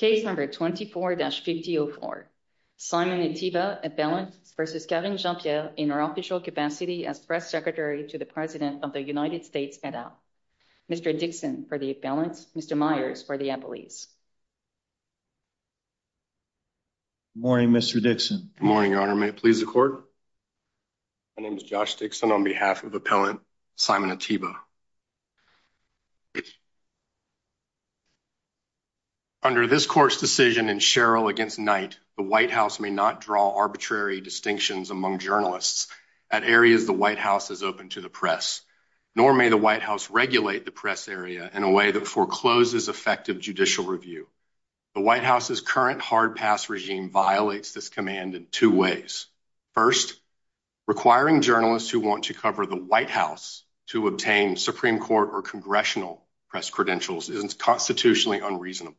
Case number 24-5004. Simon Ateba, appellant, versus Karine Jean-Pierre in our official capacity as press secretary to the President of the United States, et al. Mr. Dixon for the appellants, Mr. Myers for the appellees. Good morning, Mr. Dixon. Good morning, Your Honor. May it please the Court? My name is Josh Dixon on behalf of appellant Simon Ateba. Under this Court's decision in Sherrill v. Knight, the White House may not draw arbitrary distinctions among journalists at areas the White House is open to the press, nor may the White House regulate the press area in a way that forecloses effective judicial review. The White House's current hard-pass regime violates this command in two ways. First, requiring journalists who want to cover the White House to obtain Supreme Court or Congressional press credentials is constitutionally unreasonable.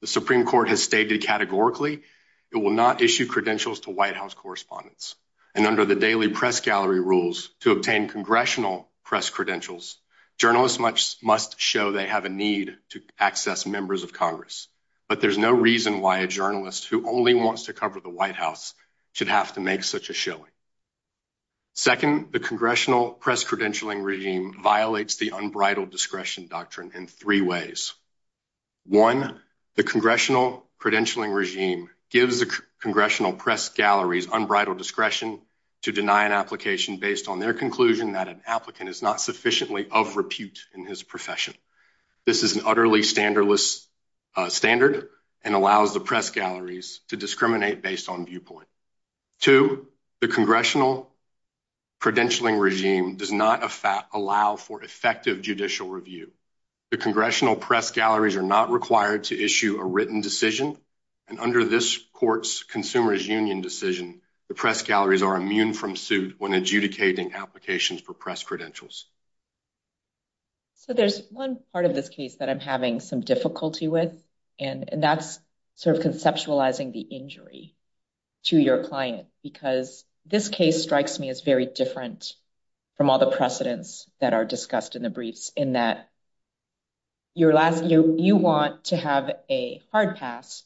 The Supreme Court has stated categorically it will not issue credentials to White House correspondents, and under the Daily Press Gallery rules, to obtain Congressional press credentials, journalists must show they have a need to access members of Congress. But there's no reason why a journalist who only wants to cover the White House should have to make such a showing. Second, the Congressional press credentialing regime violates the unbridled discretion doctrine in three ways. One, the Congressional credentialing regime gives the Congressional press galleries unbridled discretion to deny an application based on their conclusion that an applicant is not sufficiently of repute in his profession. This is an utterly standardless standard and allows the press galleries to discriminate based on viewpoint. Two, the Congressional credentialing regime does not allow for effective judicial review. The Congressional press galleries are not required to issue a written decision, and under this court's Consumer's Union decision, the press galleries are immune from suit when adjudicating applications for press credentials. So there's one part of this case that I'm having some difficulty with, and that's sort of conceptualizing the injury to your client, because this case strikes me as very different from all the precedents that are discussed in the past. You want to have a hard pass,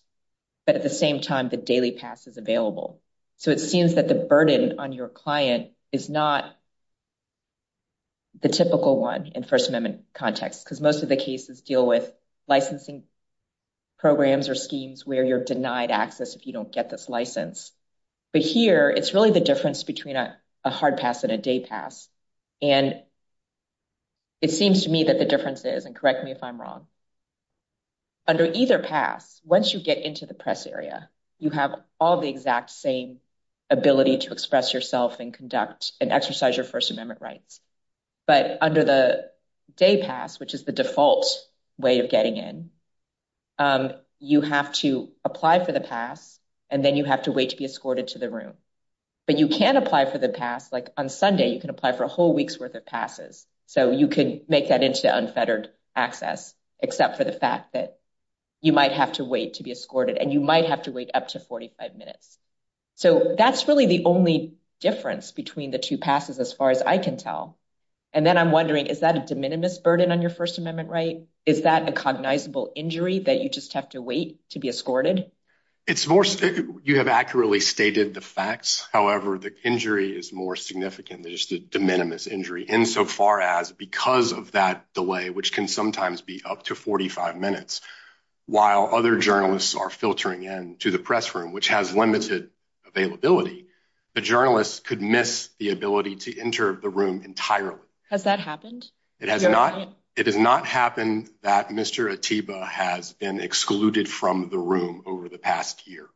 but at the same time, the daily pass is available. So it seems that the burden on your client is not the typical one in First Amendment context, because most of the cases deal with licensing programs or schemes where you're denied access if you don't get this license. But here, it's really the difference between a hard pass and a day pass, and it seems to me that the difference is, and correct me if I'm wrong, under either pass, once you get into the press area, you have all the exact same ability to express yourself and conduct and exercise your First Amendment rights. But under the day pass, which is the default way of getting in, you have to apply for the pass, and then you have to wait to be escorted to the room. But you can apply for the pass, like on Sunday, you can apply for a whole week's worth of passes. So you could make that into unfettered access, except for the fact that you might have to wait to be escorted, and you might have to wait up to 45 minutes. So that's really the only difference between the two passes, as far as I can tell. And then I'm wondering, is that a de minimis burden on your First Amendment right? Is that a cognizable injury, that you just have to wait to be escorted? It's more, you have accurately stated the facts. However, the injury is more significant. There's the de minimis injury, insofar as because of that delay, which can sometimes be up to 45 minutes, while other journalists are filtering in to the press room, which has limited availability, the journalists could miss the ability to enter the room entirely. Has that happened? It has not. It has not happened that Mr. Atiba has been excluded from the room over the past year.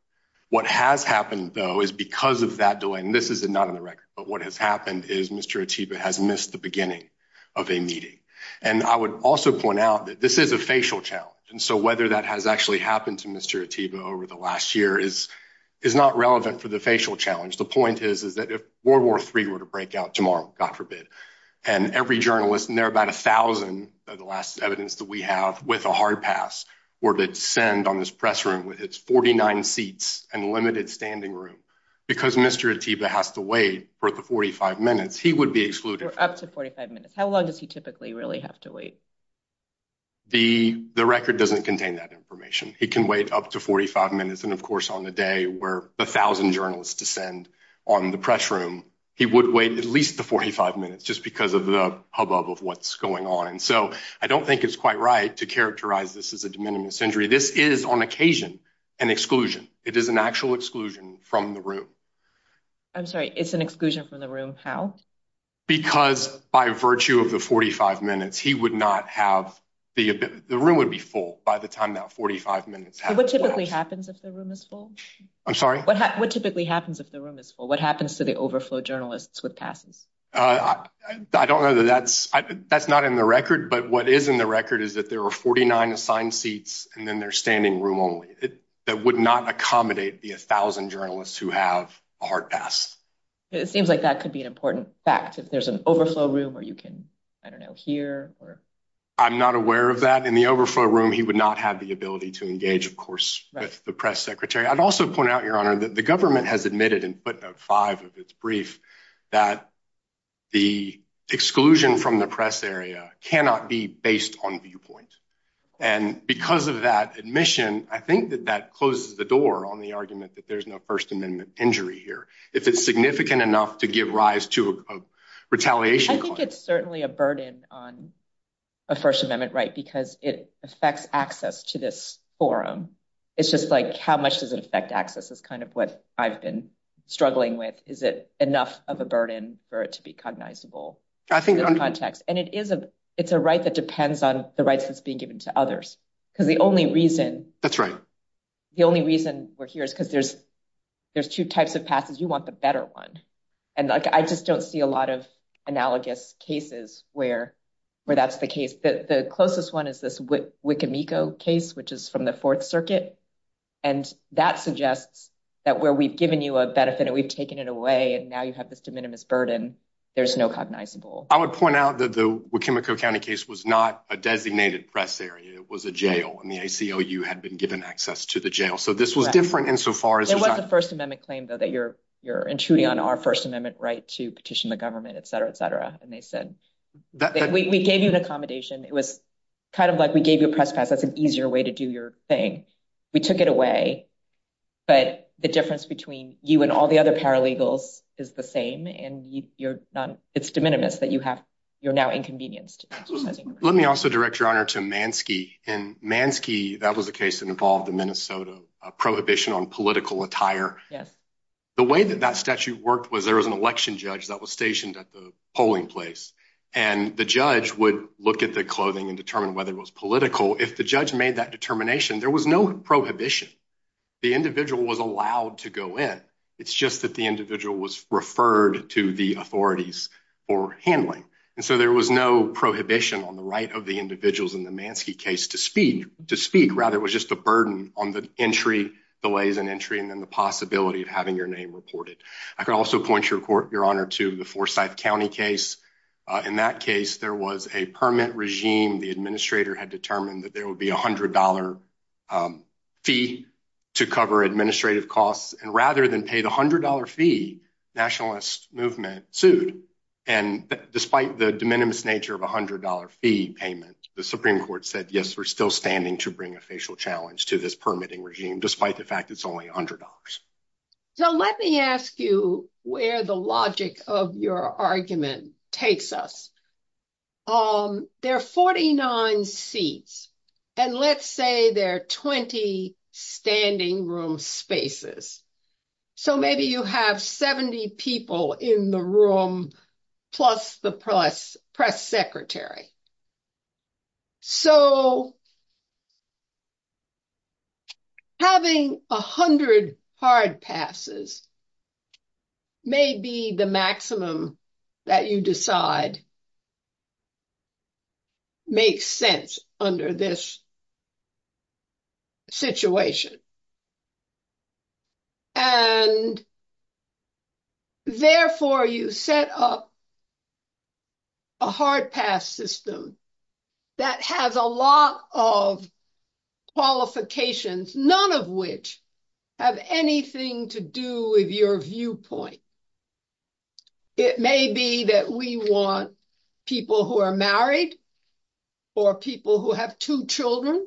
What has happened, though, is because of that delay, and this is not on the record, but what has happened is Mr. Atiba has missed the beginning of a meeting. And I would also point out that this is a facial challenge, and so whether that has actually happened to Mr. Atiba over the last year is not relevant for the facial challenge. The point is, is that if World War III were to break out tomorrow, God forbid, and every journalist, and there are about a thousand of the last evidence that we have with a hard pass, were to descend on this press room with its 49 seats and limited standing room, because Mr. Atiba has to wait for the 45 minutes, he would be excluded. Up to 45 minutes. How long does he typically really have to wait? The record doesn't contain that information. He can wait up to 45 minutes, and of course on the day where a thousand journalists descend on the press room, he would wait at least the 45 minutes, just because of the hubbub of what's going on. And so I don't think it's quite right to characterize this as a de minimis injury. This is, on occasion, an exclusion. It is an actual exclusion from the room. I'm sorry, it's an exclusion from the room. How? Because by virtue of the 45 minutes, he would not have, the room would be full by the time that 45 minutes happened. What typically happens if the room is full? I'm sorry? What typically happens if the room is full? What happens to the overflow journalists with passes? I don't know that that's, that's not in the record, but what is in the record is that there are 49 assigned seats, and then there's standing room only. That would not accommodate the a thousand journalists who have a hard pass. It seems like that could be an important fact, if there's an overflow room, or you can, I don't know, here? I'm not aware of that. In the overflow room, he would not have the ability to engage, of course, with the press secretary. I'd also point out, Your Honor, that the government has admitted, and put out five of its brief, that the exclusion from the press area cannot be based on viewpoint. And because of that admission, I think that that closes the door on the argument that there's no First Amendment injury here, if it's significant enough to give rise to a retaliation. I think it's certainly a burden on a First Amendment right, because it affects access to this forum. It's just like, how much does it affect access is kind of what I've been struggling with. Is it enough of a burden for it to be cognizable? I think in context, and it is a, it's a right that depends on the rights that's being given to others. Because the only reason, that's right. The only reason we're here is because there's, there's two types of passes, you want the better one. And I just don't see a lot of analogous cases where, where that's the case that the closest one is this Wikimiko case, which is from the Fourth Circuit. And that suggests that where we've given you a benefit, and we've taken it away, and now you have this de minimis burden, there's no cognizable. I would point out that the Wikimiko County case was not a designated press area, it was a jail, and the ACLU had been given access to the jail. So this was different insofar as it was the First Amendment claim, though, that you're, you're intruding on our First Amendment right to petition the government, etc, etc. And they said, we gave you an accommodation, it was kind of like we gave you a press pass, that's an easier way to do your thing. We took it away. But the difference between you and all the other paralegals is the same. And you're not, it's de minimis that you have, you're now inconvenienced. Let me also direct your honor to Mansky. And Mansky, that was a case that involved the Minnesota prohibition on political attire. Yes. The way that that statute worked was there was an election judge that was stationed at the polling place. And the judge would look at the clothing and determine whether it was political. If the judge made that determination, there was no prohibition. The individual was allowed to go in. It's just that the individual was referred to the authorities for handling. And so there was no prohibition on the right of the individuals in the Mansky case to speak, to speak. Rather, it was just a burden on the entry, delays in entry, and then the possibility of having your name reported. I can also point your court, your honor to the Forsyth County case. In that case, there was a permit regime. The administrator had determined that there would be $100, um, fee to cover administrative costs. And rather than pay the $100 fee, nationalist movement sued. And despite the de minimis nature of $100 fee payment, the Supreme Court said, Yes, we're still standing to bring a facial challenge to this permitting regime, despite the fact it's only $100. So let me ask you where the logic of your argument takes us. Um, there are 49 seats, and let's say there are 20 standing room spaces. So maybe you have 70 people in the room, plus the press press secretary. So having 100 hard passes may be the maximum that you decide makes sense under this situation. And therefore, you set up a hard pass system that has a lot of qualifications, none of which have anything to do with your viewpoint. It may be that we want people who are married, or people who have two children.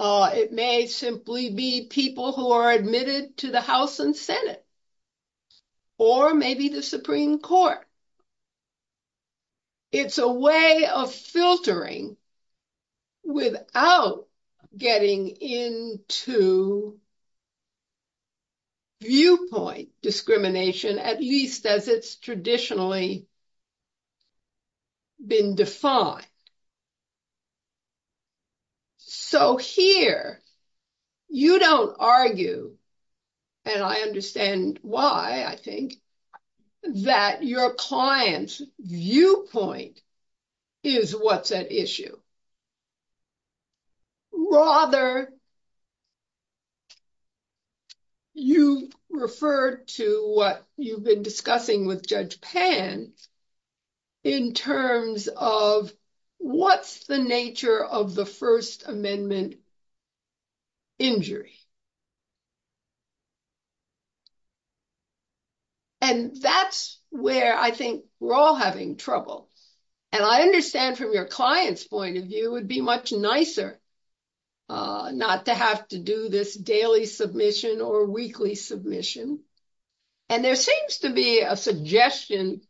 It may simply be that we be people who are admitted to the House and Senate, or maybe the Supreme Court. It's a way of filtering without getting into viewpoint discrimination, at least as it's traditionally been defined. So here, you don't argue, and I understand why I think that your client's viewpoint is what's issue. Rather, you refer to what you've been discussing with Judge Pan, in terms of what's the nature of the First Amendment injury. And that's where I we're all having trouble. And I understand from your client's point of view, it would be much nicer not to have to do this daily submission or weekly submission. And there seems to be a suggestion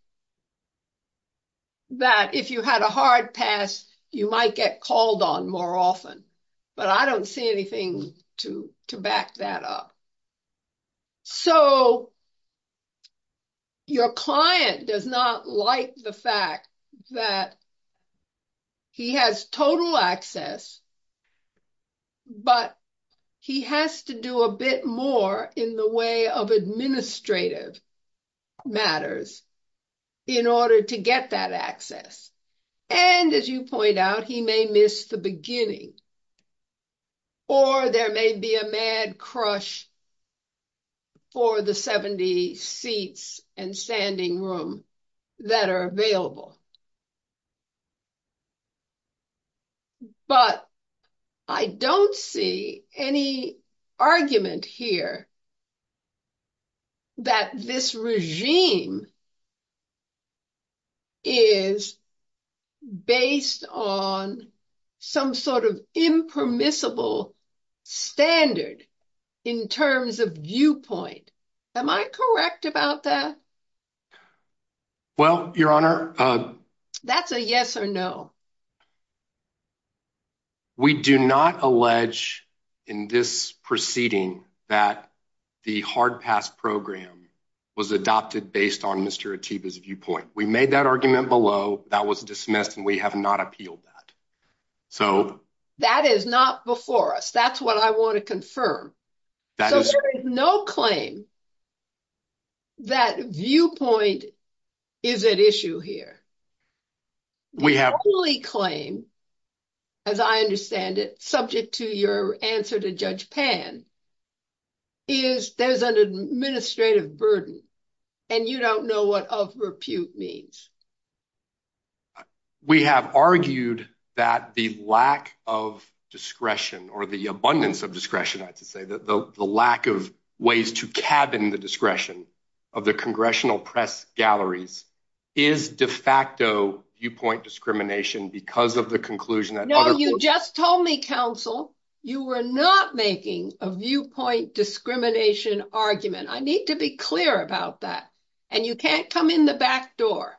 that if you had a hard pass, you might get called on more often. But I don't see anything to back that up. So your client does not like the fact that he has total access. But he has to do a bit more in the way of administrative matters in order to get that access. And as you point out, he may miss the beginning. Or there may be a mad crush for the 70 seats and standing room that are available. But I don't see any argument here that this regime is based on some sort of impermissible standard in terms of viewpoint. Am I correct about that? Well, Your Honor, that's a yes or no. We do not allege in this proceeding that the hard pass program was adopted based on Mr. Atiba's viewpoint. We made that argument below that was dismissed and we have not appealed that. So that is not before us. That's what I want to confirm. There is no claim that viewpoint is at issue here. We have only claim, as I understand it, subject to your answer to Judge Pan, is there's an administrative burden and you don't know what of repute means. We have argued that the lack of discretion or the abundance of discretion, I have to say that the lack of ways to cabin the discretion of the congressional press galleries is de facto viewpoint discrimination because of the conclusion that you just told me, counsel, you were not making a viewpoint discrimination argument. I need to be clear about that. And you can't come in the back door.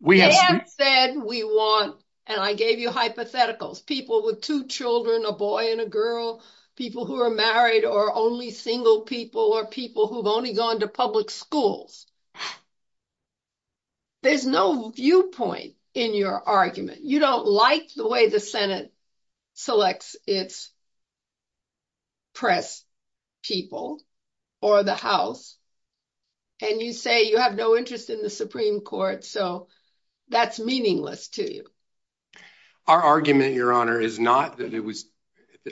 We have said we want, and I gave you hypotheticals, people with two children, a boy and a girl, people who are married or only single people or people who've only gone to public schools. There's no viewpoint in your argument. You don't like the way the Senate selects its press people or the House. And you say you have no interest in the Supreme Court. So that's meaningless to you. Our argument, Your Honor, is not that it was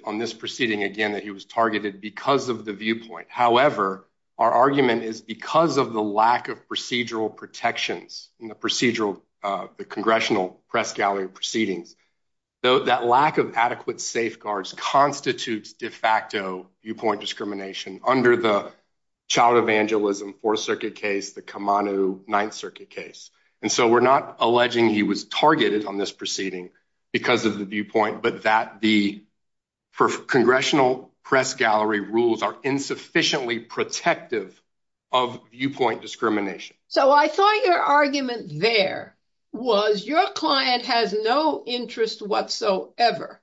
on this proceeding, again, that he was targeted because of the viewpoint. However, our argument is because of the lack of procedural protections in the procedural, the congressional press gallery proceedings, that lack of adequate safeguards constitutes de facto viewpoint discrimination under the Child Evangelism Fourth Circuit case, the Kamau Ninth Circuit case. And so we're not alleging he was targeted on this proceeding because of the viewpoint, but that the congressional press gallery rules are insufficiently protective of viewpoint discrimination. So I thought your argument there was your client has no interest whatsoever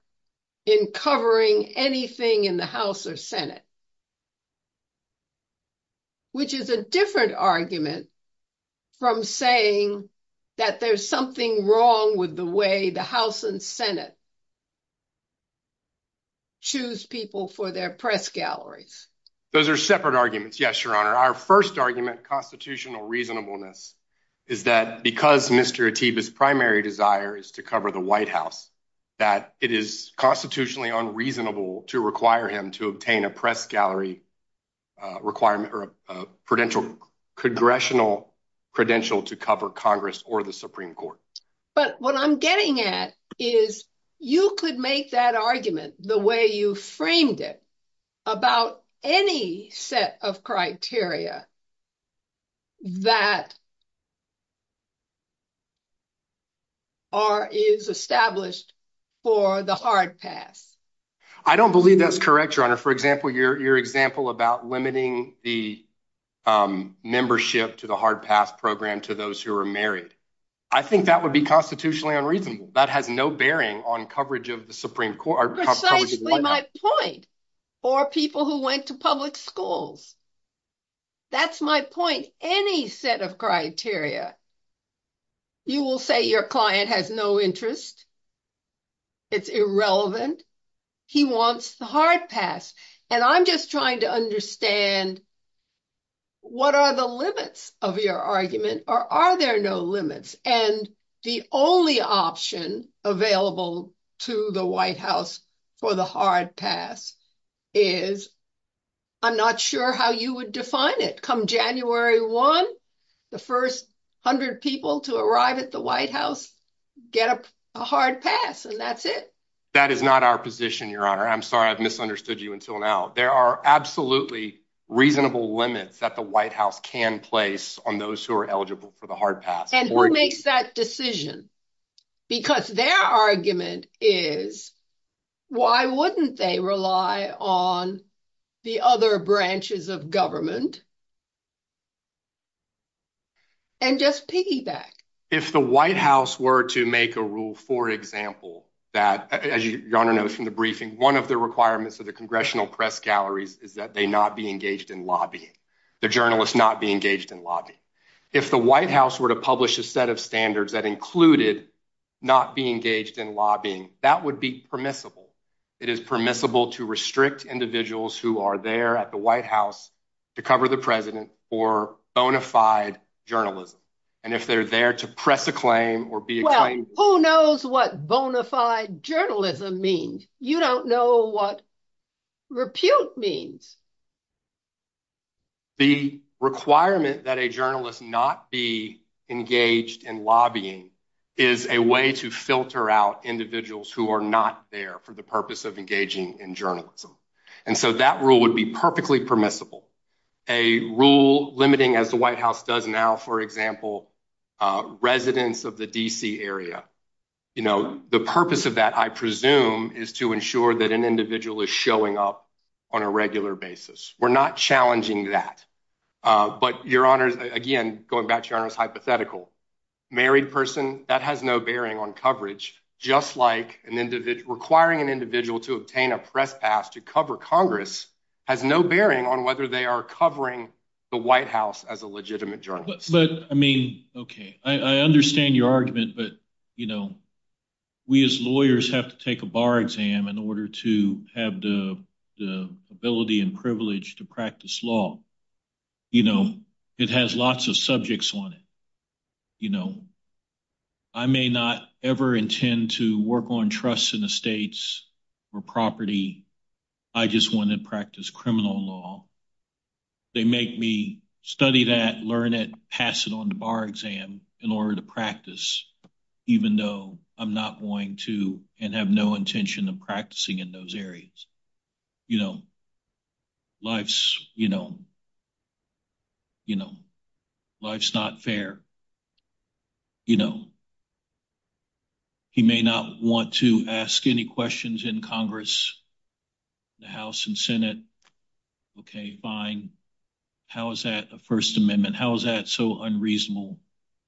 in covering anything in the House or Senate, which is a different argument from saying that there's something wrong with the way the House and Senate choose people for their press galleries. Those are separate arguments. Yes, but what I'm getting at is you could make that argument the way you framed it about any set of criteria that are, is established for the hard pass. I don't believe that's correct, Your Honor. For example, your example about limiting the membership to the hard pass program to those who are married. I think that would be constitutionally unreasonable. That has no bearing on coverage of the Supreme Court. Precisely my point for people who went to public schools. That's my point. Any set of criteria, you will say your client has no interest. It's irrelevant. He wants the hard pass. And I'm just trying to understand what are the limits of your argument or are there no limits? And the only option available to the White House for the hard pass is, I'm not sure how you would define it. Come January 1, the first 100 people to arrive at the White House get a hard pass and that's it. That is not our position, Your Honor. I'm sorry, I've misunderstood you until now. There are absolutely reasonable limits that the White House can place on those who are eligible for the hard pass. And who makes that decision? Because their argument is, why wouldn't they rely on the other branches of government and just piggyback? If the White House were to make a rule, for example, that, as Your Honor knows from the briefing, one of the requirements of the congressional press galleries is that they not be engaged in lobbying. The journalists not be engaged in lobbying. If the White House were to publish a set of standards that included not being engaged in lobbying, that would be permissible. It is permissible to restrict individuals who are there at the White House to cover the president for bona fide journalism. And if they're there to press a claim or be- Well, who knows what bona fide journalism means? You don't know what repute means. The requirement that a journalist not be engaged in lobbying is a way to filter out individuals who are not there for the purpose of engaging in journalism. And so that rule would be perfectly permissible. A rule limiting, as the White House does now, for example, residents of the D.C. area. The purpose of that, I presume, is to ensure that an individual is We're not challenging that. But Your Honor, again, going back to Your Honor's hypothetical, married person, that has no bearing on coverage, just like requiring an individual to obtain a press pass to cover Congress has no bearing on whether they are covering the White House as a legitimate journalist. But, I mean, okay, I understand your argument, but, you know, we as lawyers have to take a bar exam in order to have the ability and privilege to practice law. You know, it has lots of subjects on it. You know, I may not ever intend to work on trusts and estates or property. I just want to practice criminal law. They make me study that, learn it, pass it on to bar exam in order to practice, even though I'm not going to and have no intention of practicing in those areas. You know, life's, you know, you know, life's not fair. You know, he may not want to ask any questions in Congress, the House and Senate. Okay, fine. How is that a First Amendment? How is that so unreasonable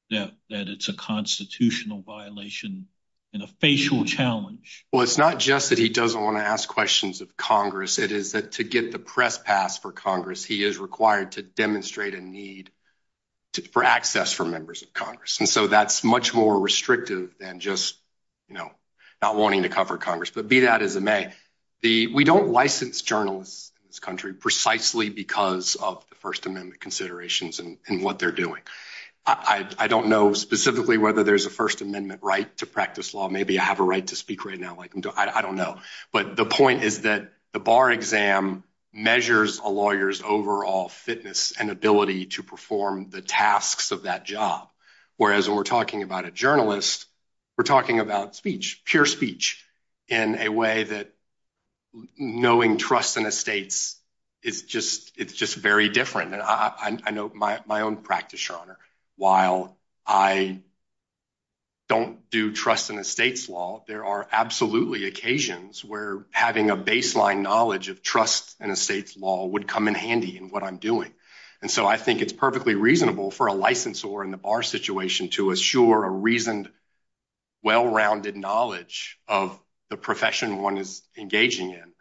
that it's a constitutional violation and a facial challenge? Well, it's not just that he doesn't want to ask questions of Congress. It is that to get the press pass for Congress, he is required to demonstrate a need for access for members of Congress. And so that's much more restrictive than just, you know, not wanting to cover Congress. But be that as it may, we don't license journalists in this country precisely because of the First Amendment considerations and what they're doing. I don't know specifically whether there's a First Amendment right to practice law. Maybe I have a right to speak right now. I don't know. But the point is that the bar exam measures a lawyer's overall fitness and ability to perform the tasks of that job. Whereas when we're talking about a journalist, we're talking about speech, pure speech in a way that knowing trust and estates, it's just very different. And I know my own practice, Your Honor, while I don't do trust in estates law, there are absolutely occasions where having a baseline knowledge of trust in estates law would come in handy in what I'm doing. And so I think it's perfectly reasonable for a licensor in the bar situation to assure a reasoned, well-rounded knowledge of the profession one is engaging in.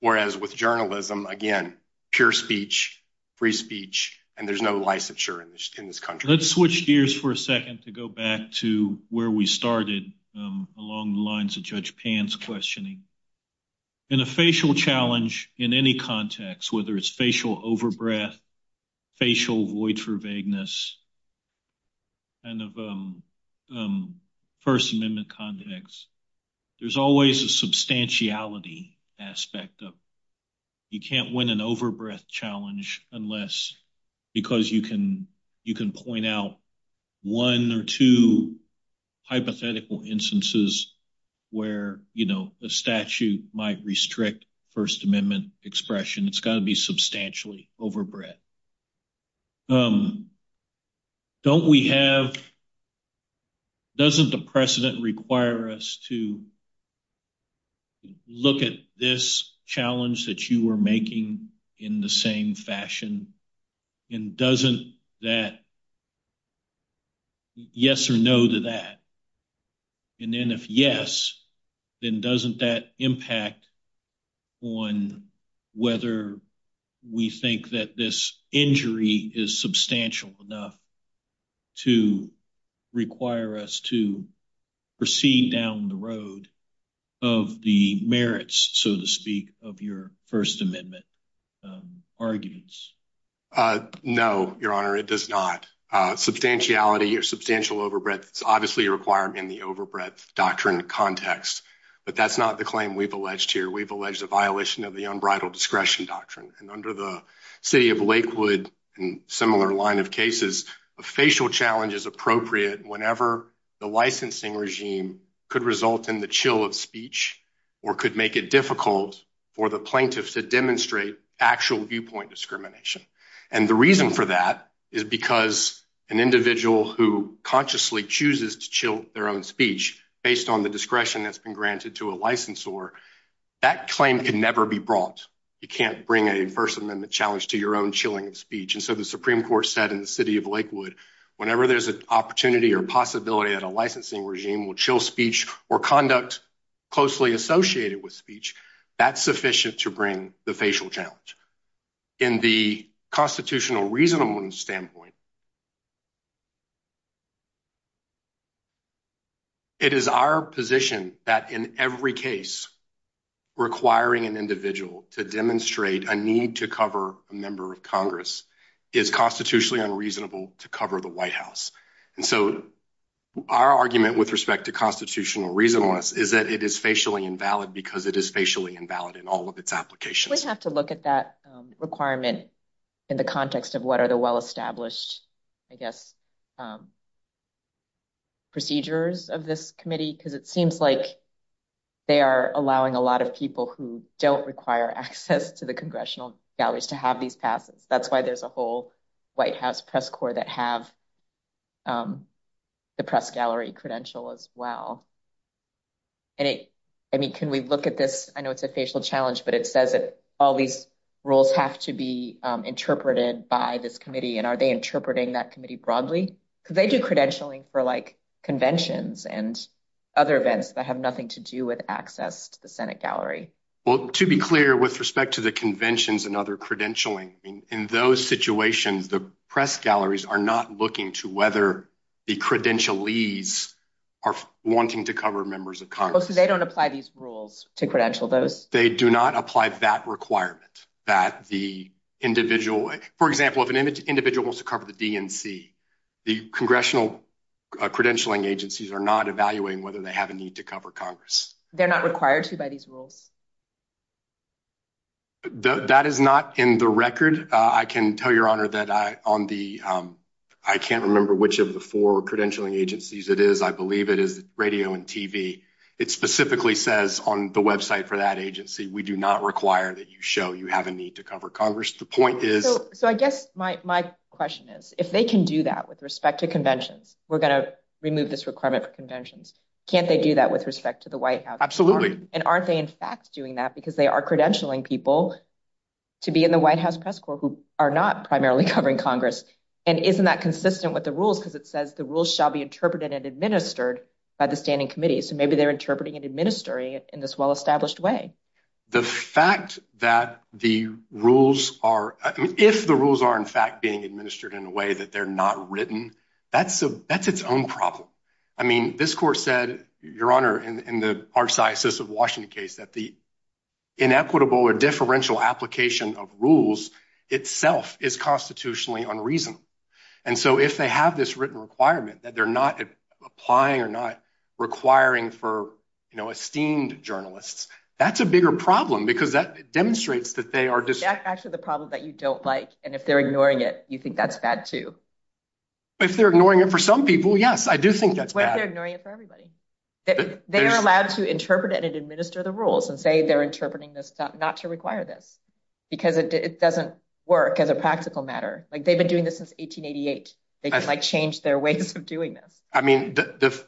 Whereas with journalism, again, pure speech, free speech, and there's no licensure in this country. Let's switch gears for a second to go back to where we started along the lines of Judge Pan's questioning. In a facial challenge in any context, whether it's facial overbreath, facial void for vagueness, kind of First Amendment context, there's always a substantiality aspect of you can't win an overbreath challenge unless, because you can point out one or two hypothetical instances where a statute might restrict First Amendment expression. It's got to be substantially overbreath. Doesn't the precedent require us to look at this challenge that you were making in the same fashion? And doesn't that yes or no to that? And then if yes, then doesn't that impact on whether we think that this injury is substantial enough to require us to proceed down the road of the merits, so to speak, of your First Amendment arguments? No, Your Honor, it does not. Substantiality or substantial overbreath is obviously a requirement in the overbreath doctrine context, but that's not the claim we've alleged here. We've alleged a violation of the unbridled discretion doctrine. And under the City of Lakewood and similar line of cases, a facial challenge is appropriate whenever the licensing regime could result in the chill of speech or could make it difficult for the plaintiff to demonstrate actual viewpoint discrimination. And the reason for that is because an individual who consciously chooses to chill their own speech based on the discretion that's been granted to a licensor, that claim can never be brought. You can't bring a First Amendment challenge to your own chilling of speech. And so the Supreme Court said in the City of Lakewood, whenever there's an opportunity or possibility that a licensing regime will chill speech or conduct closely associated with speech, that's sufficient to bring the facial challenge. In the constitutional reasonableness standpoint, it is our position that in every case requiring an individual to demonstrate a need to cover a member of Congress is constitutionally unreasonable to cover the White House. And so our argument with respect to constitutional reasonableness is that it is facially invalid because it is facially invalid in all of its applications. We have to look at that requirement in the context of what are the well-established, I guess, procedures of this committee, because it seems like they are allowing a lot of people who don't require access to the congressional galleries to have these passes. That's why there's a whole White House press corps that have the press gallery credential as well. And it, I mean, can we look at this? I know it's a facial challenge, but it says that these rules have to be interpreted by this committee, and are they interpreting that committee broadly? Because they do credentialing for conventions and other events that have nothing to do with access to the Senate gallery. Well, to be clear, with respect to the conventions and other credentialing, in those situations, the press galleries are not looking to whether the credentialees are wanting to cover members of Congress. So they don't apply these rules to credential those? They do not apply that requirement that the individual, for example, if an individual wants to cover the DNC, the congressional credentialing agencies are not evaluating whether they have a need to cover Congress. They're not required to by these rules? That is not in the record. I can tell your Honor that on the, I can't remember which of the four credentialing agencies it is. I believe it is radio and TV. It specifically says on the website for that agency, we do not require that you show you have a need to cover Congress. The point is. So I guess my question is, if they can do that with respect to conventions, we're going to remove this requirement for conventions. Can't they do that with respect to the White House? Absolutely. And aren't they in fact doing that because they are credentialing people to be in the White House press corps who are not primarily covering Congress? And isn't that consistent with the rules? Because it says the rules shall be interpreted and administered by the standing committee. So maybe they're interpreting and administering in this well-established way. The fact that the rules are, if the rules are in fact being administered in a way that they're not written, that's its own problem. I mean, this court said, your Honor, in the Archdiocese of Washington case that the inequitable or differential application of rules itself is constitutionally unreasonable. And so if they have this written requirement that they're not applying or not requiring for esteemed journalists, that's a bigger problem because that demonstrates that they are just- That's actually the problem that you don't like. And if they're ignoring it, you think that's bad too. If they're ignoring it for some people, yes, I do think that's bad. What if they're ignoring it for everybody? They are allowed to interpret it and administer the rules and say they're interpreting this not to require this because it doesn't work as a practical matter. They've been doing this since 1888. They can change their ways of doing this. I mean,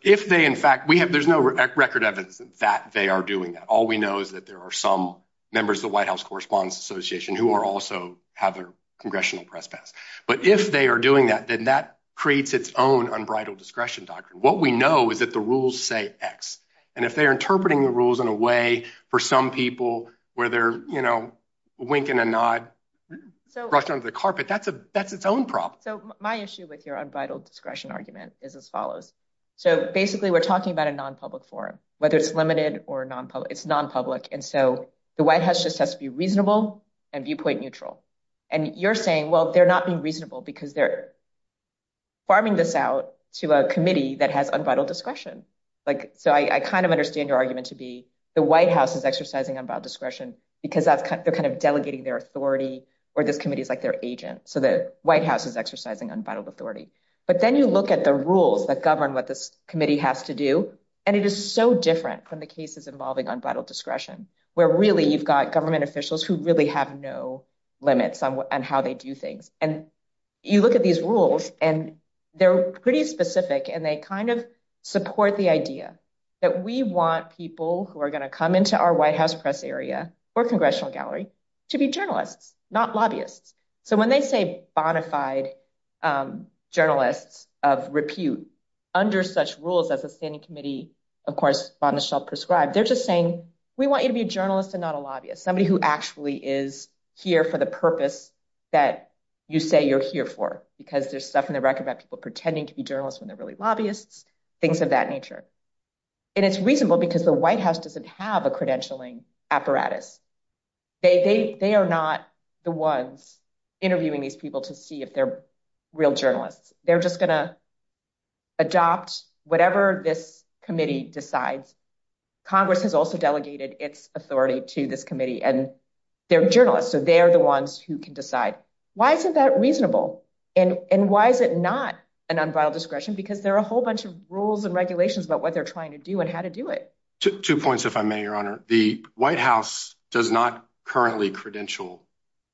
if they, in fact, we have, there's no record evidence that they are doing that. All we know is that there are some members of the White House Correspondents Association who are also have a congressional press pass. But if they are doing that, then that creates its own unbridled discretion doctrine. What we know is that the rules say X. And if they're interpreting the rules in a way for some people where they're, you know, winking and nod, rushing onto the carpet, that's its own problem. My issue with your unbridled discretion argument is as follows. So basically we're talking about a non-public forum, whether it's limited or non-public, it's non-public. And so the White House just has to be reasonable and viewpoint neutral. And you're saying, well, they're not being reasonable because they're farming this out to a committee that has unbridled discretion. Like, so I kind of understand your argument to be the White House is exercising unbridled discretion because they're kind of delegating their authority or this committee is like their agent. So the White House is exercising unbridled authority. But then you look at the rules that govern what this committee has to do. And it is so different from the cases involving unbridled discretion, where really you've got government officials who really have no limits on how they do things. And you look at these rules and they're pretty specific and they kind of support the idea that we want people who are going to come into our White House press area or congressional gallery to be journalists, not lobbyists. So when they say bona fide journalists of repute under such rules as a standing committee, of course, on the shelf prescribed, they're just saying, we want you to be a journalist and not a lobbyist, somebody who actually is here for the purpose that you say you're here for, because there's stuff in the record about people pretending to be journalists when they're really lobbyists, things of that nature. And it's reasonable because the White House doesn't have a credentialing apparatus. They are not the ones interviewing these people to see if they're real journalists. They're just going to adopt whatever this committee decides. Congress has also delegated its authority to this committee and they're journalists. So they're the ones who can decide. Why isn't that reasonable? And why is it not an unbridled discretion? Because there are a whole bunch of rules and regulations about what I'll just add two points, if I may, Your Honor. The White House does not currently credential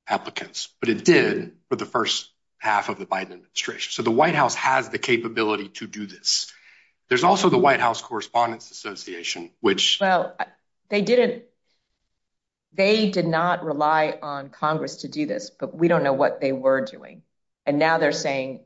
applicants, but it did for the first half of the Biden administration. So the White House has the capability to do this. There's also the White House Correspondents Association, which- Well, they did not rely on Congress to do this, but we don't know what they were doing. And now they're saying,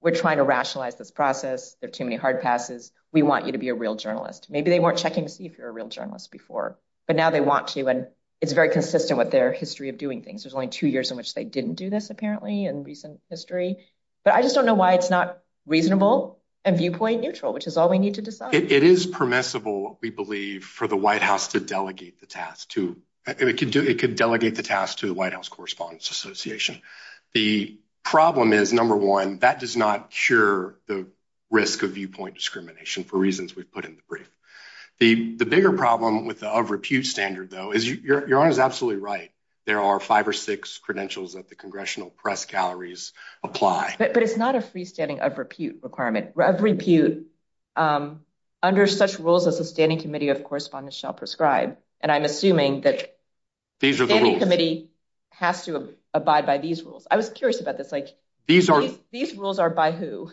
we're trying to rationalize this process. There are too many hard passes. We want you to be a real journalist. Maybe they weren't checking to see if you're a real journalist before, but now they want to. And it's very consistent with their history of doing things. There's only two years in which they didn't do this, apparently, in recent history. But I just don't know why it's not reasonable and viewpoint neutral, which is all we need to decide. It is permissible, we believe, for the White House to delegate the task to- It could delegate the task to the White House Correspondents Association. The problem is, number one, that does not cure the risk of viewpoint discrimination for reasons we've put in the brief. The bigger problem with the of repute standard, though, is Your Honor is absolutely right. There are five or six credentials that the congressional press galleries apply. But it's not a freestanding of repute requirement. Of repute, under such rules as the Standing Committee of Correspondents shall prescribe. And I'm assuming that the Standing Committee has to abide by these rules. I was curious about this. These rules are by who?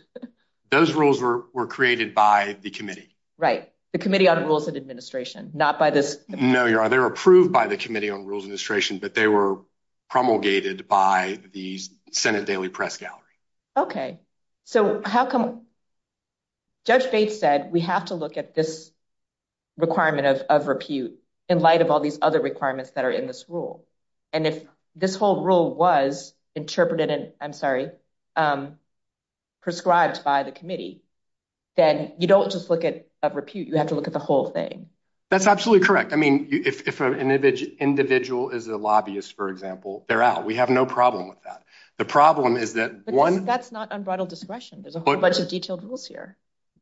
Those rules were created by the committee. Right. The Committee on Rules and Administration, not by this- No, Your Honor. They were approved by the Committee on Rules and Administration, but they were promulgated by the Senate Daily Press Gallery. Okay. Judge Bates said we have to look at this requirement of repute in light of all these other requirements that are in this rule. And if this whole rule was interpreted and, I'm sorry, prescribed by the committee, then you don't just look at repute, you have to look at the whole thing. That's absolutely correct. I mean, if an individual is a lobbyist, for example, they're out. We have no problem with that. The problem is that one- That's not unbridled discretion. There's a whole bunch of detailed rules here.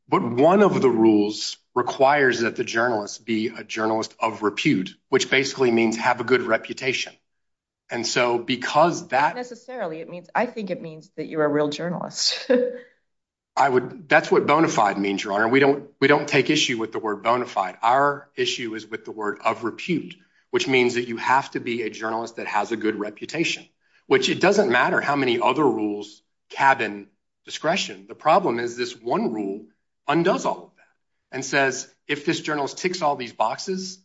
But one of the rules requires that the journalist be a journalist of repute, which basically means have a good reputation. And so because that- Not necessarily. I think it means that you're a real journalist. That's what bona fide means, Your Honor. We don't take issue with the word bona fide. Our issue is with the word of repute, which means that you have to be a journalist that has a good reputation, which it doesn't matter how many other rules cabin discretion. The problem is this one rule undoes all of that and says, if this journalist ticks all these boxes,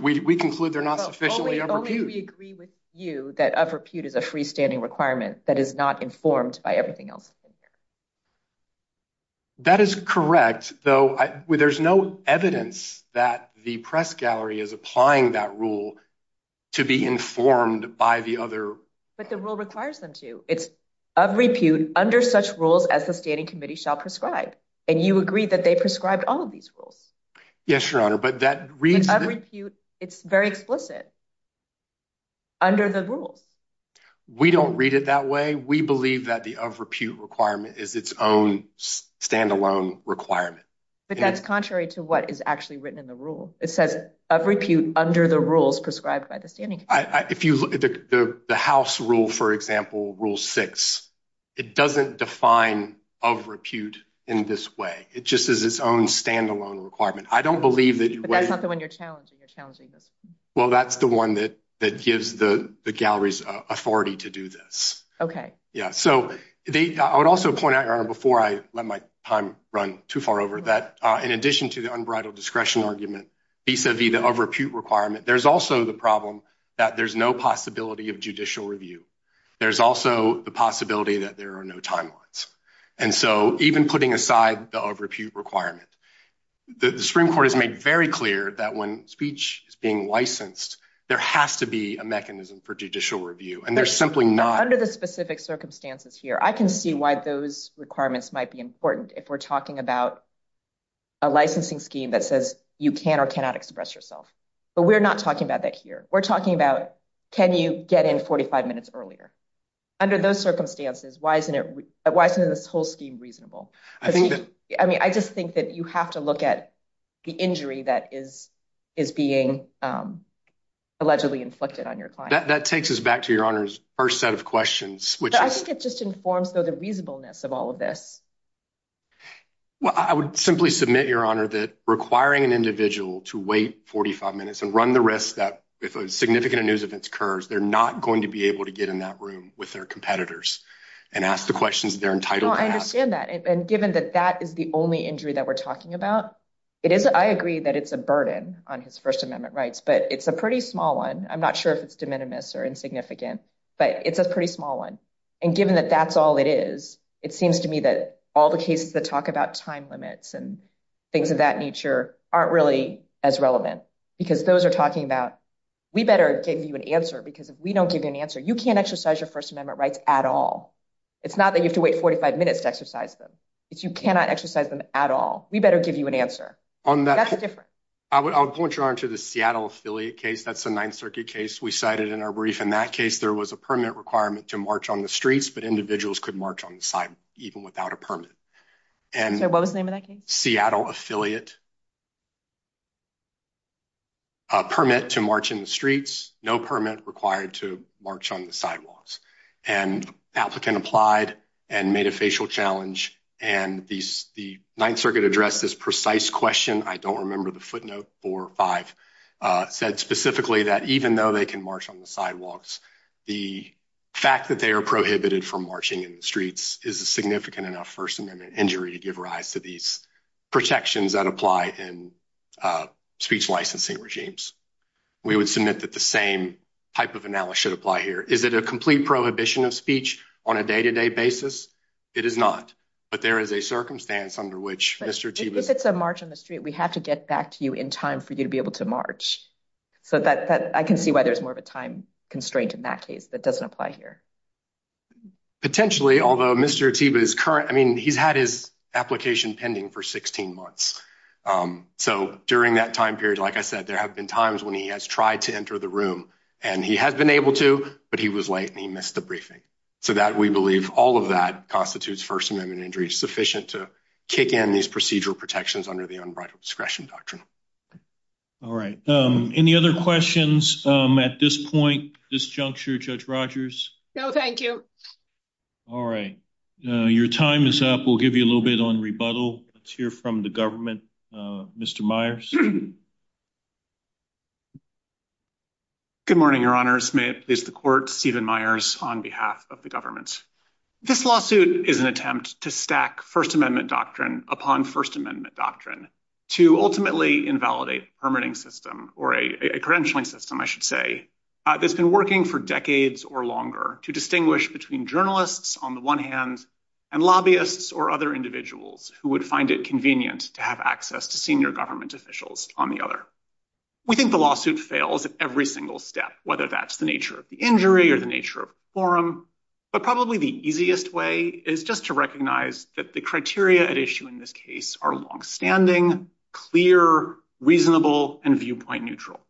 we conclude they're not sufficiently of repute. Only we agree with you that of repute is a freestanding requirement that is not informed by everything else. That is correct, though there's no evidence that the press gallery is applying that rule to be informed by the other- But the rule requires them to. It's of repute under such rules as the standing committee shall prescribe. And you agree that they prescribed all of these rules. Yes, Your Honor, but that reads- The of repute, it's very explicit under the rules. We don't read it that way. We believe that the of repute requirement is its own standalone requirement. But that's contrary to what is actually written in the rule. It says of repute under the rules prescribed by the standing committee. If you look at the House rule, for example, rule six, it doesn't define of repute in this way. It just is its own standalone requirement. I don't believe that- But that's not the one you're challenging. You're challenging this one. Well, that's the one that gives the gallery's authority to do this. Okay. Yeah, so I would also point out, Your Honor, before I let my time run too far over, that in addition to the unbridled discretion argument vis-a-vis the of repute requirement, there's also the problem that there's no possibility of judicial review. There's also the possibility that there are no timelines. And so even putting aside the of repute requirement, the Supreme Court has made very clear that when speech is being licensed, there has to be a mechanism for judicial review. And there's simply not- Under the specific circumstances here, I can see why those requirements might be important if we're talking about a licensing scheme that says you can or cannot express yourself. But we're not talking about that here. We're talking about, can you get in 45 minutes earlier? Under those circumstances, why isn't this whole scheme reasonable? I mean, I just think that you have to look at the injury that is being allegedly inflicted on your client. That takes us back to Your Honor's first set of questions, which is- But I think it just informs, though, the reasonableness of all of this. Well, I would simply submit, Your Honor, that requiring an individual to wait 45 minutes and the risk that if a significant news event occurs, they're not going to be able to get in that room with their competitors and ask the questions they're entitled to ask. Well, I understand that. And given that that is the only injury that we're talking about, I agree that it's a burden on his First Amendment rights, but it's a pretty small one. I'm not sure if it's de minimis or insignificant, but it's a pretty small one. And given that that's all it is, it seems to me that all the cases that talk about time limits and things of that nature aren't really as relevant, because those are talking about, we better give you an answer, because if we don't give you an answer, you can't exercise your First Amendment rights at all. It's not that you have to wait 45 minutes to exercise them. It's you cannot exercise them at all. We better give you an answer. On that- That's different. I would point, Your Honor, to the Seattle Affiliate case. That's a Ninth Circuit case. We cited in our brief. In that case, there was a permanent requirement to march on the streets, but individuals could march on the side even without a permit. And- So what was the name of that case? Seattle Affiliate, a permit to march in the streets, no permit required to march on the sidewalks. And the applicant applied and made a facial challenge. And the Ninth Circuit addressed this precise question. I don't remember the footnote, four or five, said specifically that even though they can march on the sidewalks, the fact that they are prohibited from marching in the streets is a significant enough First Amendment injury to give these protections that apply in speech licensing regimes. We would submit that the same type of analysis should apply here. Is it a complete prohibition of speech on a day-to-day basis? It is not. But there is a circumstance under which Mr. Atiba- If it's a march on the street, we have to get back to you in time for you to be able to march. So that- I can see why there's more of a time constraint in that case that doesn't apply here. Potentially, although Mr. Atiba is current, I mean, he's had his application pending for 16 months. So during that time period, like I said, there have been times when he has tried to enter the room and he has been able to, but he was late and he missed the briefing. So that we believe all of that constitutes First Amendment injury sufficient to kick in these procedural protections under the unbridled discretion doctrine. All right. Any other questions at this point, this juncture, Judge Rogers? No, thank you. All right. Your time is up. We'll give you a little bit on rebuttal. Let's hear from the government. Mr. Myers. Good morning, Your Honors. May it please the Court, Stephen Myers on behalf of the government. This lawsuit is an attempt to stack First Amendment doctrine upon First Amendment doctrine to ultimately invalidate permitting system or a credentialing system, I should say. That's been working for decades or longer to distinguish between journalists on the one hand and lobbyists or other individuals who would find it convenient to have access to senior government officials on the other. We think the lawsuit fails at every single step, whether that's the nature of the injury or the nature of quorum, but probably the easiest way is just to recognize that the criteria at issue in this case are longstanding, clear, reasonable, and viewpoint neutral.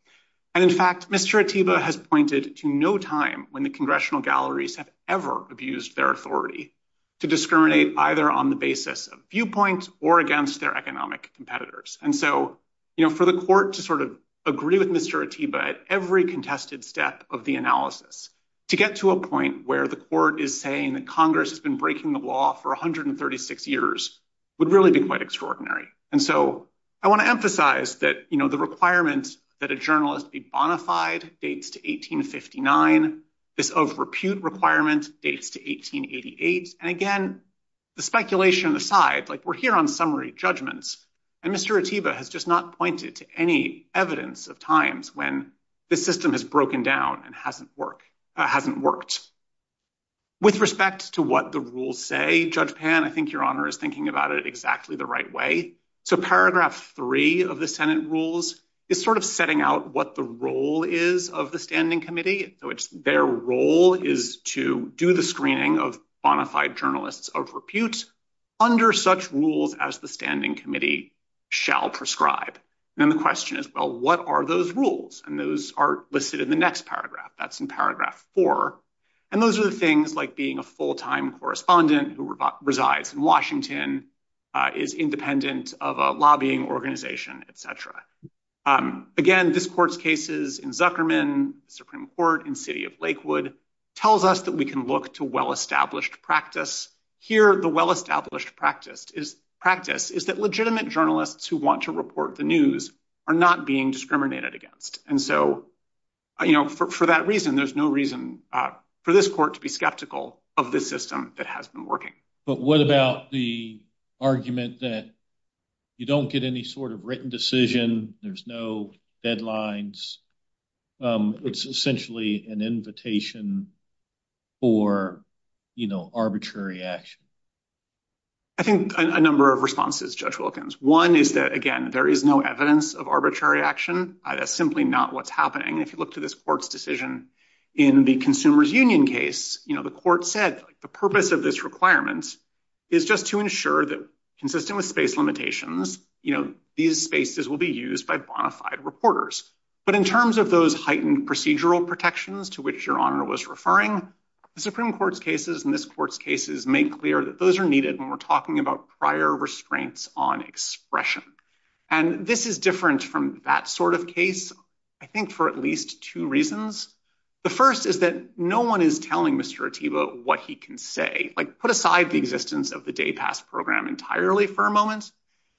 And in fact, Mr. Atiba has pointed to no time when the congressional galleries have ever abused their authority to discriminate either on the basis of viewpoint or against their economic competitors. And so, you know, for the court to sort of agree with Mr. Atiba at every contested step of the analysis to get to a point where the court is saying that Congress has been breaking the law for 136 years would really be quite extraordinary. And so I want to emphasize that, you know, the requirement that a journalist be bonafide dates to 1859. This over-repute requirement dates to 1888. And again, the speculation aside, like we're here on summary judgments, and Mr. Atiba has just not pointed to any evidence of times when this system has broken down and hasn't worked. With respect to what the rules say, Judge Pan, I think your honor is thinking about it exactly the right way. So paragraph three of the Senate rules is sort of setting out what the role is of the standing committee. So it's their role is to do the screening of bonafide journalists of repute under such rules as the standing committee shall prescribe. And then the question is, well, what are those rules? And those are listed in the next paragraph. That's in paragraph four. And those are the things like being a full-time correspondent who resides in Washington, is independent of a lobbying organization, etc. Again, this court's cases in Zuckerman, Supreme Court, and City of Lakewood tells us that we can look to well-established practice. Here, the well-established practice is that legitimate journalists who want to report the news are not being discriminated against. And so, you know, for that reason, there's no reason for this court to be skeptical of this system that has been working. But what about the argument that you don't get any sort of written decision, there's no deadlines, it's essentially an invitation for, you know, arbitrary action? I think a number of responses, Judge Wilkins. One is that, again, there is no evidence of arbitrary action. That's simply not what's happening. If you look to this court's decision in the Consumers Union case, you know, the court said the purpose of this requirement is just to ensure that consistent with space limitations, you know, these spaces will be used by bona fide reporters. But in terms of those heightened procedural protections to which Your Honor was referring, the Supreme Court's cases and this court's cases make clear that those are needed when we're talking about prior restraints on expression. And this is different from that sort of case, I think, for at least two reasons. The first is that no one is telling Mr. Atiba what he can say, like put aside the existence of the Day Pass program entirely for a moment.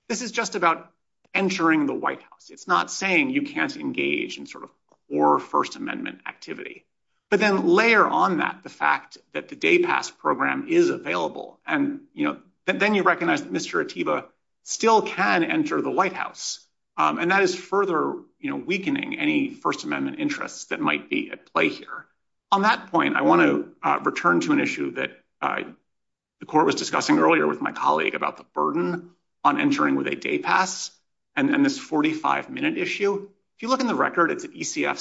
This is just about entering the White House. It's not saying you can't engage in sort of core First Amendment activity. But then layer on that the fact that the Day Pass program is available. And, you know, then you recognize that Mr. Atiba still can enter the White House. And that is further weakening any First Amendment interests that might be at play here. On that point, I want to return to an issue that the court was discussing earlier with my colleague about the burden on entering with a Day Pass and this 45-minute issue. If you look in the record, it's ECF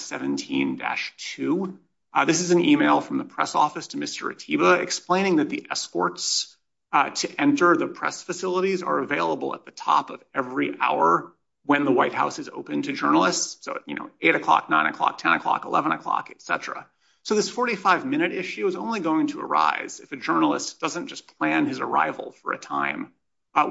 17-2. This is an email from the press office to Mr. Atiba explaining that the escorts to enter the press facilities are available at the top of every hour when the White House is open to journalists. So, you know, 8 o'clock, 9 o'clock, 10 o'clock, 11 o'clock, et cetera. So this 45-minute issue is only going to arise if a journalist doesn't just plan his arrival for a time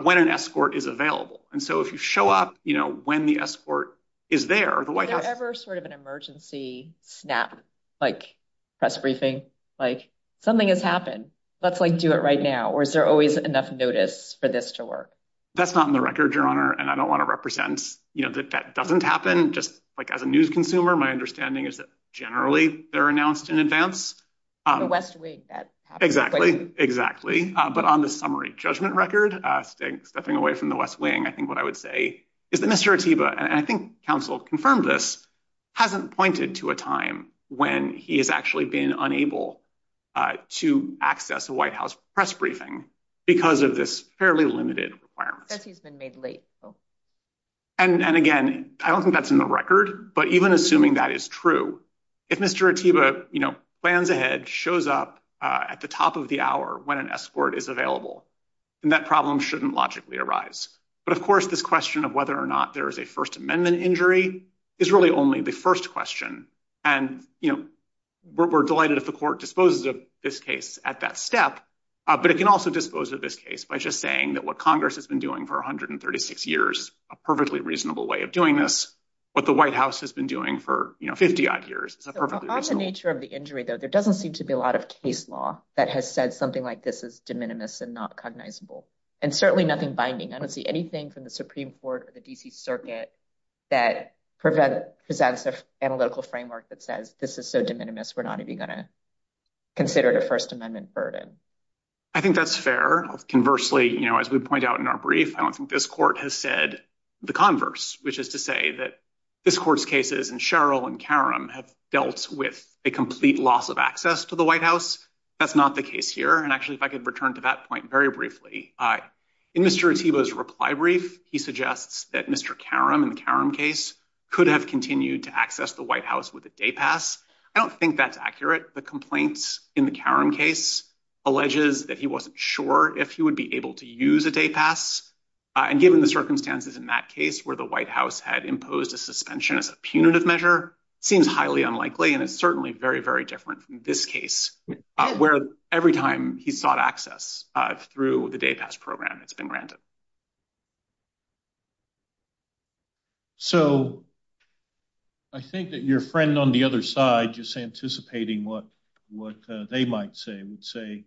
when an escort is available. And so if you show up, you know, when the escort is there, the White House... Is there ever sort of an emergency snap, like press briefing, like something has happened? Let's like do it right now, or is there always enough notice for this to work? That's not in the record, Your Honor. And I don't want to represent, you know, that that doesn't happen just like as a news consumer. My understanding is that generally they're announced in advance. The West Wing, that happens. Exactly, exactly. But on the summary judgment record, stepping away from the West Wing, I think what I would say is that Mr. Atiba, and I think counsel confirmed this, hasn't pointed to a time when he has actually been unable to access a White House press briefing because of this fairly limited requirement. Says he's been made late. And again, I don't think that's in the record, but even assuming that is true, if Mr. Atiba, you know, plans ahead, shows up at the top of the hour when an escort is available, then that problem shouldn't logically arise. But of course, this question of whether or not there is a First Amendment injury is really only the first question. And, you know, we're delighted if the court disposes of this case at that step, but it can also dispose of this case by just saying that what Congress has been doing for 136 years, a perfectly reasonable way of doing this, what the White House has been doing for, you know, 50-odd years. It's perfectly reasonable. So on the nature of the injury, though, there doesn't seem to be a lot of case law that has said something like this is de minimis and not cognizable. And certainly nothing binding. I don't see anything from the Supreme Court or the D.C. Circuit that presents an analytical framework that says this is so de minimis, we're not even going to consider it a First Amendment burden. I think that's fair. Conversely, you know, as we point out in our brief, I don't think this court has said the converse, which is to say that this court's cases and Sheryl and Karam have dealt with a complete loss of access to the White House. That's not the case here. And actually, if I could return to that point very briefly, in Mr. Otiba's reply brief, he suggests that Mr. Karam in the Karam case could have continued to access the White House with a day pass. I don't think that's accurate. The complaints in the Karam case alleges that he wasn't sure if he would be able to use a day pass. And given the circumstances in that case where the White House had imposed a suspension as a punitive measure, seems highly unlikely. And it's certainly very, very different from this case where every time he sought access through the day pass program, it's been granted. So I think that your friend on the other side, just anticipating what they might say, would say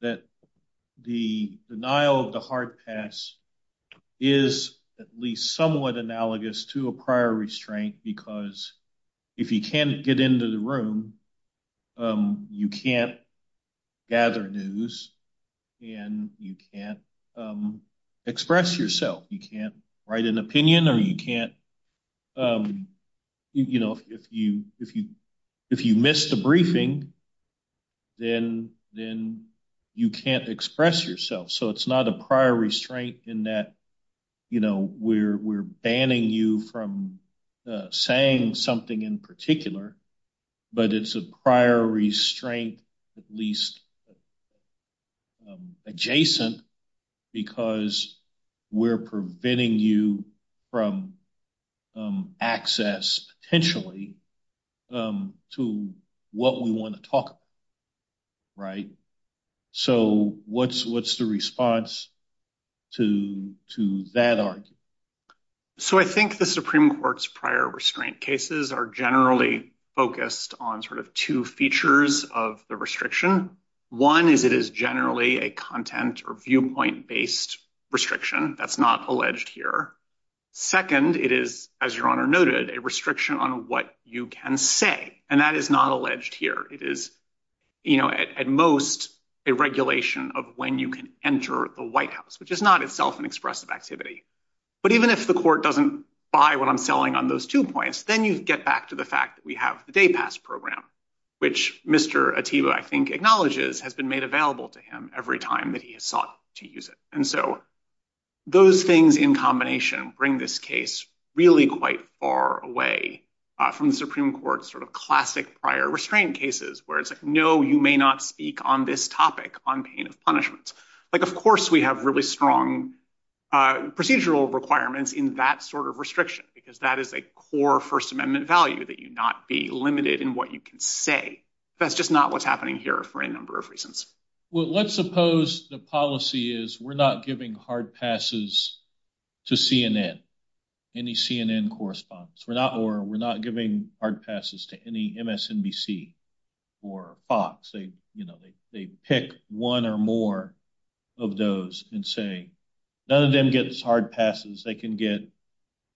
that the denial of the hard pass is at least somewhat analogous to a prior restraint, because if you can't get into the room, you can't gather news and you can't express yourself. You can't write an opinion or you can't, you know, if you miss the briefing, then you can't express yourself. It's not a prior restraint in that, you know, we're banning you from saying something in particular, but it's a prior restraint, at least adjacent, because we're preventing you from access potentially to what we want to talk about, right? So what's the response to that argument? So I think the Supreme Court's prior restraint cases are generally focused on sort of two features of the restriction. One is it is generally a content or viewpoint-based restriction. That's not alleged here. Second, it is, as your Honor noted, a restriction on what you can say, and that is not alleged here. It is, you know, at most a regulation of when you can enter the White House, which is not itself an expressive activity. But even if the court doesn't buy what I'm selling on those two points, then you get back to the fact that we have the day pass program, which Mr. Atiba, I think, acknowledges has been made available to him every time that he has sought to use it. And so those things in combination bring this case really quite far away from the Supreme Court's sort of classic prior restraint cases, where it's like, no, you may not speak on this topic on pain of punishment. Like, of course, we have really strong procedural requirements in that sort of restriction, because that is a core First Amendment value, that you not be limited in what you can say. That's just not what's happening here for a number of reasons. Well, let's suppose the policy is we're not giving hard passes to CNN, any CNN correspondence. Or we're not giving hard passes to any MSNBC or Fox. They, you know, they pick one or more of those and say, none of them gets hard passes. They can get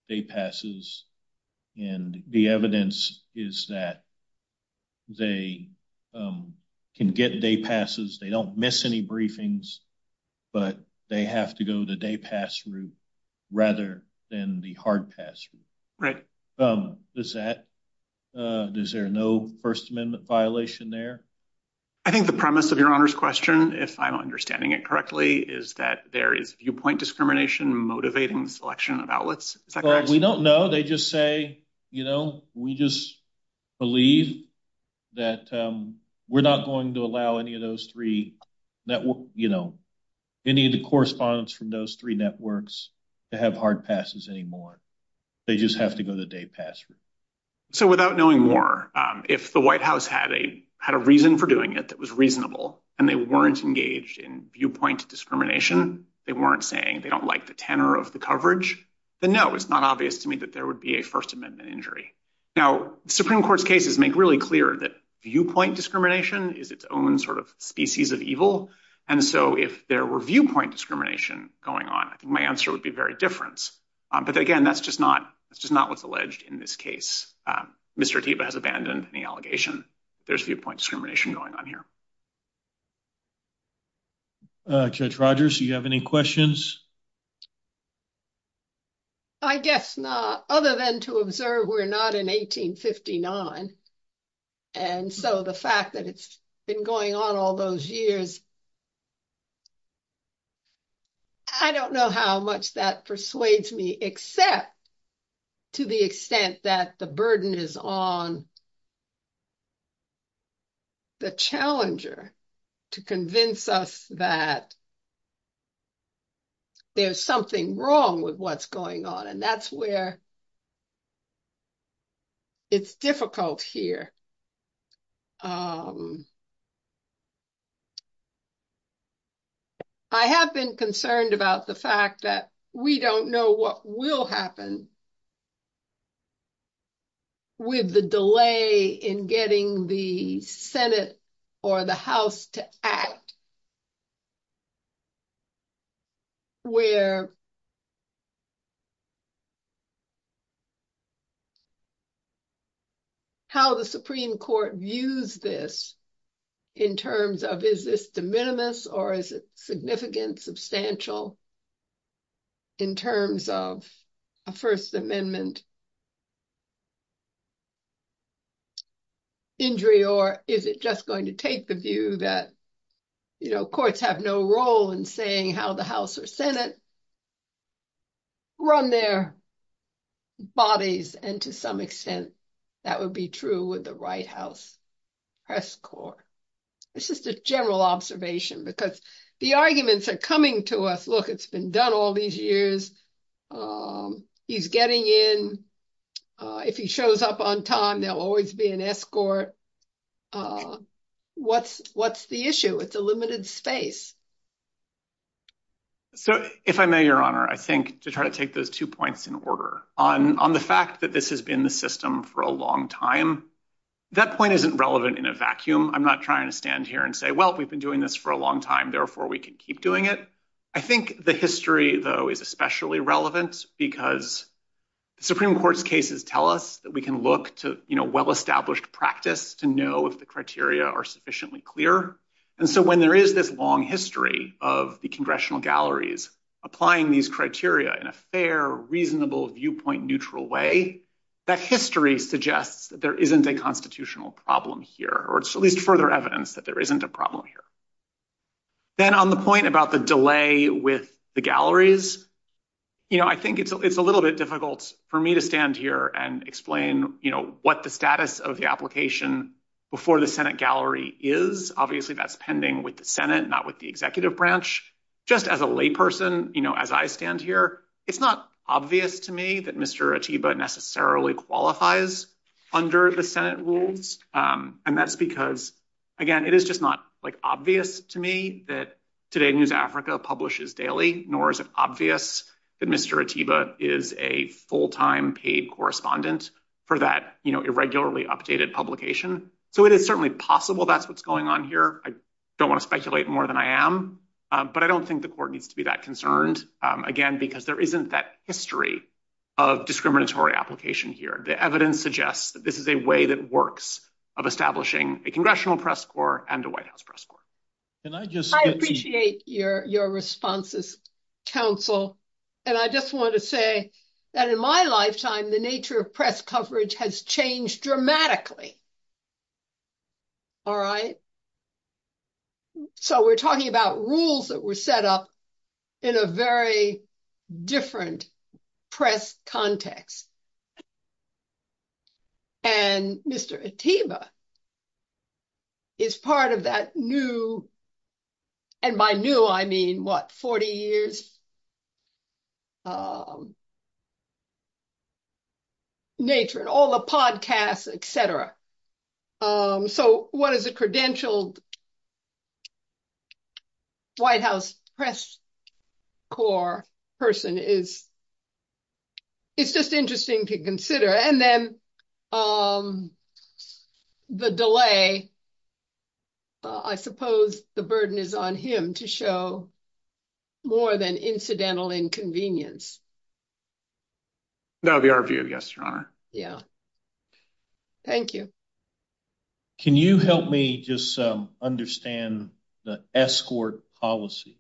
day passes. And the evidence is that they can get day passes, they don't miss any briefings, but they have to go the day pass route, rather than the hard pass route. Right. Does that, is there no First Amendment violation there? I think the premise of Your Honor's question, if I'm understanding it correctly, is that there is viewpoint discrimination motivating selection of outlets? We don't know. They just say, you know, we just believe that we're not going to allow any of those three networks, you know, any of the correspondence from those three networks to have hard passes anymore. They just have to go the day pass route. So without knowing more, if the White House had a reason for doing it that was reasonable, and they weren't engaged in viewpoint discrimination, they weren't saying they don't like the tenor of the coverage, then no, it's not obvious to me that there would be a First Amendment injury. Now, Supreme Court's cases make really clear that viewpoint discrimination is its own sort of species of evil. And so if there were viewpoint discrimination going on, I think my answer would be very different. But again, that's just not, that's just not what's alleged in this case. Mr. Atiba has abandoned the allegation. There's viewpoint discrimination going on here. Judge Rogers, do you have any questions? I guess not, other than to observe we're not in 1859. And so the fact that it's been going on all those years, I don't know how much that persuades me, except to the extent that the burden is on the challenger to convince us that there's something wrong with what's going on. And that's where it's difficult here. I have been concerned about the fact that we don't know what will happen with the delay in getting the Senate or the House to act, where how the Supreme Court views this in terms of is this de minimis or is it significant, substantial in terms of a First Amendment injury, or is it just going to take the view that, you know, courts have no role in saying how the House or Senate run their bodies. And to some extent, that would be true with the White House Press Corps. It's just a general observation because the arguments are coming to us. Look, it's been done all these years. He's getting in. If he shows up on time, there'll always be an escort. What's the issue? It's a limited space. So if I may, Your Honor, I think to try to take those two points in order on the fact that this has been the system for a long time, that point isn't relevant in a vacuum. I'm not trying to stand here and say, well, we've been doing this for a long time, therefore we can keep doing it. I think the history, though, is especially relevant because the Supreme Court's cases tell us that we can look to, you know, well-established practice to know if the criteria are sufficiently clear. And so when there is this long history of the congressional galleries applying these criteria in a fair, reasonable, viewpoint-neutral way, that history suggests that there isn't a constitutional problem here, or at least further evidence that there isn't a problem here. Then on the point about the delay with the galleries, you know, I think it's a little bit difficult for me to stand here and explain, you know, what the status of the application before the Senate gallery is. Obviously, that's pending with the Senate, not with the executive branch. Just as a layperson, you know, as I stand here, it's not obvious to me that Mr. Atiba necessarily qualifies under the Senate rules. And that's because, again, it is just not, like, obvious to me that Today News Africa publishes daily, nor is it obvious that Mr. Atiba is a full-time paid correspondent for that, you know, irregularly updated publication. So it is certainly possible that's what's going on here. I don't want to speculate more than I am, but I don't think the Court needs to be that concerned, again, because there isn't that history of discriminatory application here. The evidence suggests that this is a way that works of establishing a Congressional press corps and a White House press corps. Can I just- I appreciate your responses, counsel. And I just want to say that in my lifetime, the nature of press coverage has changed dramatically. All right? So we're talking about rules that were set up in a very different press context. And Mr. Atiba is part of that new- and by new, I mean, what, 40 years nature and all the podcasts, et cetera. So what is a credentialed White House press corps person is- it's just interesting to consider. And then the delay, I suppose the burden is on him to show more than incidental inconvenience. That would be our view, yes, Your Honor. Yeah. Thank you. Can you help me just understand the escort policy?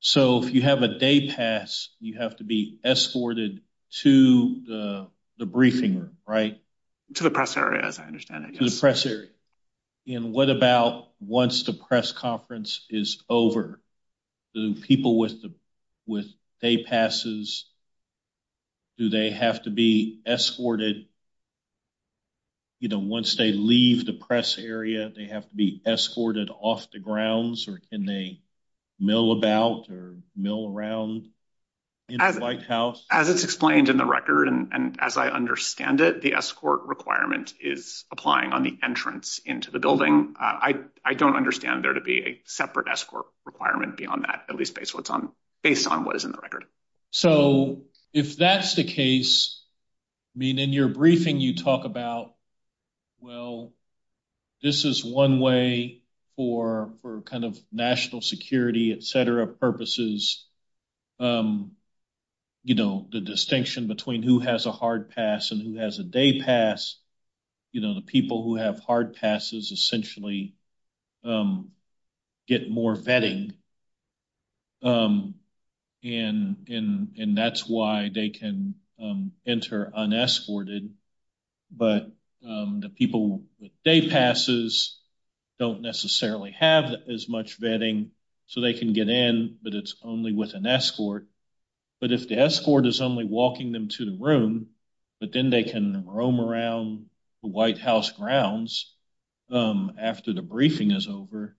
So if you have a day pass, you have to be escorted to the briefing room, right? To the press area, as I understand it, yes. To the press area. And what about once the press conference is over? Do people with day passes, do they have to be escorted? You know, once they leave the press area, they have to be escorted off the grounds? Or can they mill about or mill around in the White House? As it's explained in the record, and as I understand it, the escort requirement is applying on the entrance into the building. I don't understand there to be a separate escort requirement beyond that, at least based on what is in the record. So if that's the case, I mean, in your briefing, you talk about, well, this is one way for kind of national security, et cetera, purposes, you know, the distinction between who has a hard pass and who has a day pass. You know, the people who have hard passes essentially get more vetting. And that's why they can enter unescorted. But the people with day passes don't necessarily have as much vetting, so they can get in, but it's only with an escort. But if the escort is only walking them to the room, but then they can roam around the White House grounds after the briefing is over,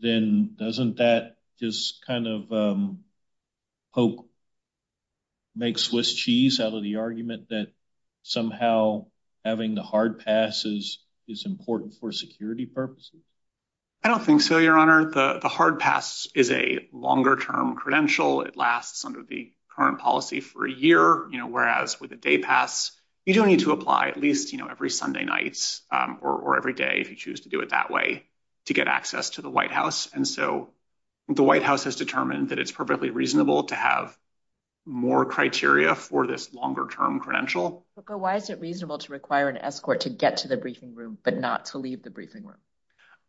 then doesn't that just kind of poke, make Swiss cheese out of the argument that somehow having the hard passes is important for security purposes? I don't think so, Your Honor. The hard pass is a longer-term credential. It lasts under the current policy for a year, you know, whereas with a day pass, you do need to every day, if you choose to do it that way, to get access to the White House. And so, the White House has determined that it's perfectly reasonable to have more criteria for this longer-term credential. But why is it reasonable to require an escort to get to the briefing room, but not to leave the briefing room?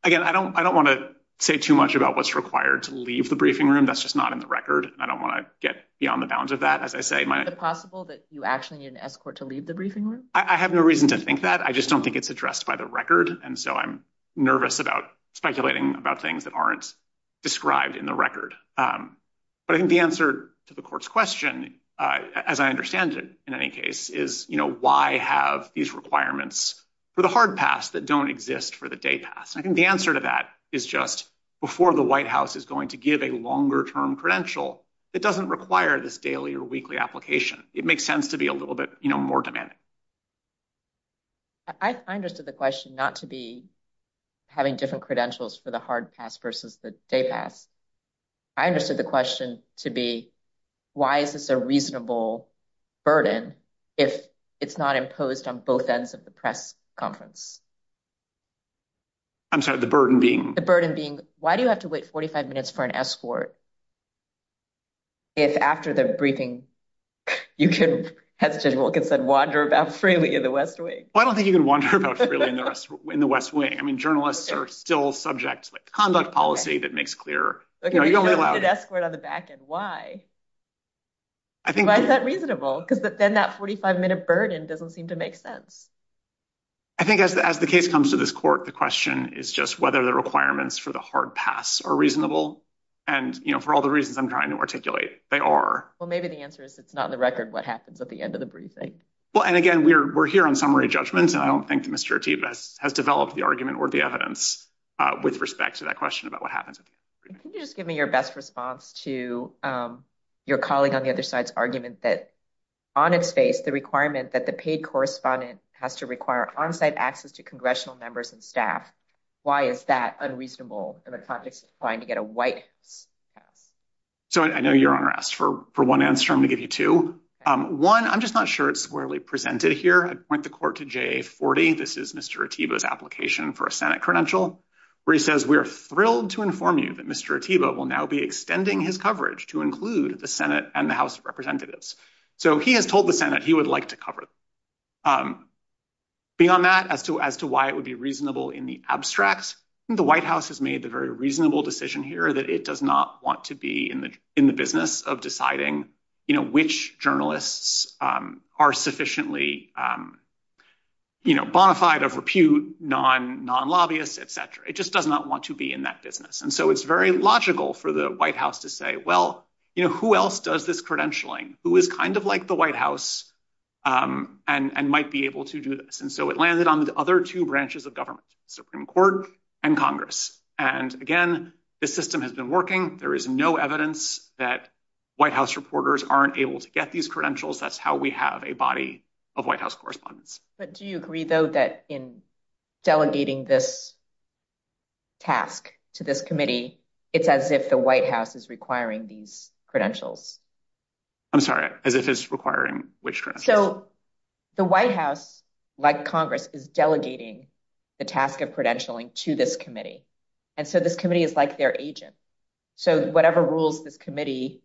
Again, I don't want to say too much about what's required to leave the briefing room. That's just not in the record. I don't want to get beyond the bounds of that. Is it possible that you actually need an escort to leave the briefing room? I have no reason to think that. I just don't think it's addressed by the record. And so, I'm nervous about speculating about things that aren't described in the record. But I think the answer to the court's question, as I understand it, in any case, is, you know, why have these requirements for the hard pass that don't exist for the day pass? I think the answer to that is just before the White House is going to give a longer-term credential, it doesn't require this daily or weekly application. It makes sense to be a little bit, you know, more demanding. I understood the question not to be having different credentials for the hard pass versus the day pass. I understood the question to be, why is this a reasonable burden if it's not imposed on both ends of the press conference? I'm sorry, the burden being? The burden being, why do you have to wait 45 minutes for an escort if after the briefing, you can, as Judge Wilkins said, wander about freely in the West Wing? Well, I don't think you can wander about freely in the West Wing. I mean, journalists are still subject to a conduct policy that makes clear, you know, you don't allow- Okay, but you don't need an escort on the back end, why? Why is that reasonable? Because then that 45-minute burden doesn't seem to make sense. I think as the case comes to this court, the question is just whether the requirements for the hard pass are reasonable. And, you know, for all the reasons I'm trying to articulate, they are. Well, maybe the answer is it's not in the record what happens at the end of the briefing. Well, and again, we're here on summary judgments, and I don't think that Mr. Ateeb has developed the argument or the evidence with respect to that question about what happens. Can you just give me your best response to your colleague on the other side's argument that, on its face, the requirement that the paid correspondent has to require on-site access to congressional members and staff, why is that unreasonable in the context of trying to get a pass? So, I know Your Honor asked for one answer. I'm going to give you two. One, I'm just not sure it's squarely presented here. I'd point the court to JA40. This is Mr. Ateebo's application for a Senate credential, where he says, we are thrilled to inform you that Mr. Ateebo will now be extending his coverage to include the Senate and the House of Representatives. So, he has told the Senate he would like to cover them. Beyond that, as to why it would be reasonable in the abstract, I think the White House has made a very reasonable decision here that it does not want to be in the business of deciding which journalists are sufficiently bona fide of repute, non-lobbyists, etc. It just does not want to be in that business. And so, it's very logical for the White House to say, well, who else does this credentialing? Who is kind of like the White House and might be able to do this? And so, it landed on the other two branches of government, Supreme Court and Congress. And again, the system has been working. There is no evidence that White House reporters aren't able to get these credentials. That's how we have a body of White House correspondents. But do you agree, though, that in delegating this task to this committee, it's as if the White House is requiring these credentials? I'm sorry, as if it's requiring which credentials? So, the White House, like Congress, is delegating the task of credentialing to this committee. And so, this committee is like their agent. So, whatever rules this committee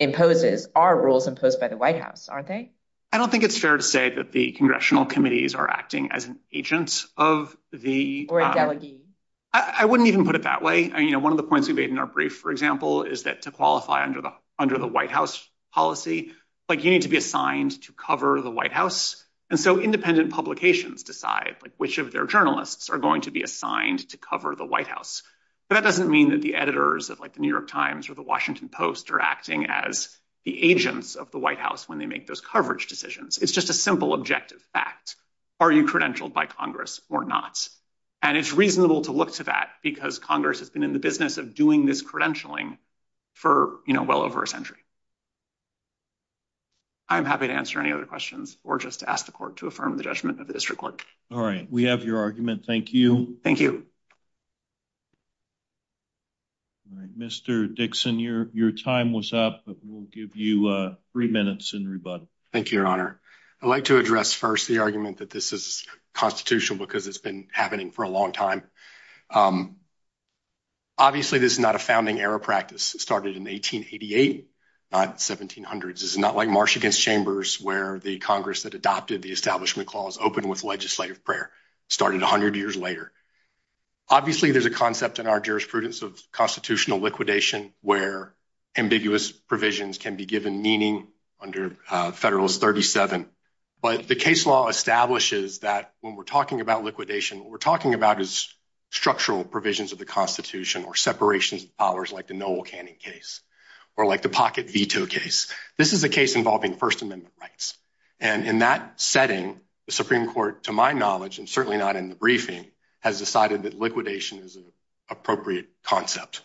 imposes are rules imposed by the White House, aren't they? I don't think it's fair to say that the congressional committees are acting as an agent of the... Or a delegee. I wouldn't even put it that way. One of the points we've made in our brief, for example, is that to qualify under the White House policy, you need to be assigned to cover the White House. And so, independent publications decide which of their journalists are going to be assigned to cover the White House. But that doesn't mean that the editors of the New York Times or the Washington Post are acting as the agents of the White House when they make those coverage decisions. It's just a simple objective fact. Are you credentialed by Congress or not? And it's reasonable to look to that because Congress has been in the business of doing this credentialing for well over a century. I'm happy to answer any other questions or just ask the court to affirm the judgment of the district court. All right. We have your argument. Thank you. Thank you. All right. Mr. Dixon, your time was up, but we'll give you three minutes in rebuttal. Thank you, Your Honor. I'd like to address first the argument that this is constitutional because it's been happening for a long time. Obviously, this is not a founding era practice. It started in 1888, not 1700s. This is not like March Against Chambers, where the Congress that adopted the Establishment Clause opened with legislative prayer. It started 100 years later. Obviously, there's a concept in our jurisprudence of constitutional liquidation, where ambiguous provisions can be given meaning under Federalist 37. But the case law establishes that when we're talking about liquidation, what we're talking about is structural provisions of the Constitution or separations of powers like the Noel Canning case or like the Pocket Veto case. This is a case involving First Amendment rights. And in that setting, the Supreme Court, to my knowledge, and certainly not in the briefing, has decided that liquidation is an appropriate concept.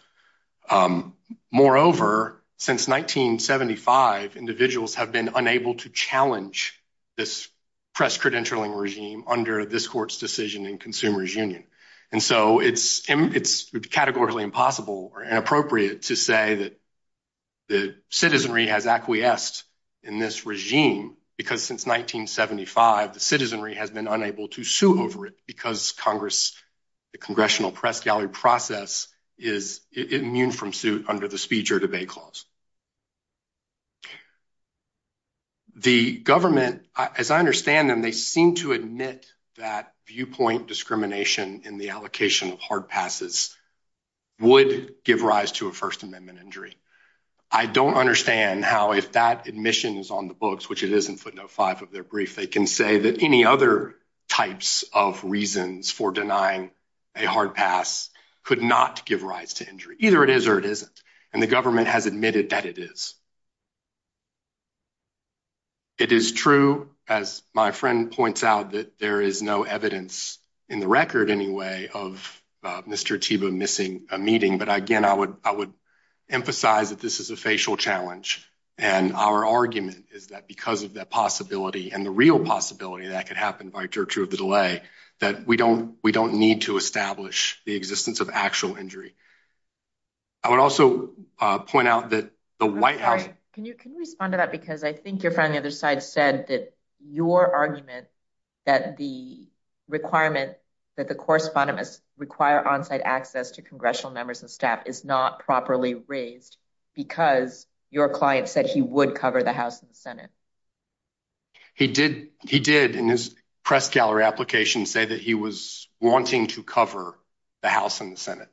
Moreover, since 1975, individuals have been unable to challenge this press credentialing regime under this Court's decision in Consumers Union. And so it's categorically impossible or inappropriate to say that the citizenry has acquiesced in this regime because since 1975, the citizenry has been unable to sue over it because the Congressional Press Gallery process is immune from suit under the Speech or Debate Clause. The government, as I understand them, they seem to admit that viewpoint discrimination in the allocation of hard passes would give rise to a First Amendment injury. I don't understand how, if that admission is on the books, which it is in footnote five of their brief, they can say that any other types of reasons for denying a hard pass could not give rise to injury. Either it is or it isn't. And the government has admitted that it is. It is true, as my friend points out, that there is no evidence, in the record anyway, of Mr. Thiebaud missing a meeting. But again, I would emphasize that this is a facial challenge. And our argument is that because of that possibility and the real possibility that could happen by torture of the delay, that we don't need to establish the existence of actual injury. I would also point out that the White House... I'm sorry, can you respond to that? Because I think your friend on the other side said that your argument that the requirement that the correspondents require onsite access to congressional members and staff is not properly raised because your client said he would cover the House and the Senate. He did in his press gallery application say that he was wanting to cover the House and the Senate.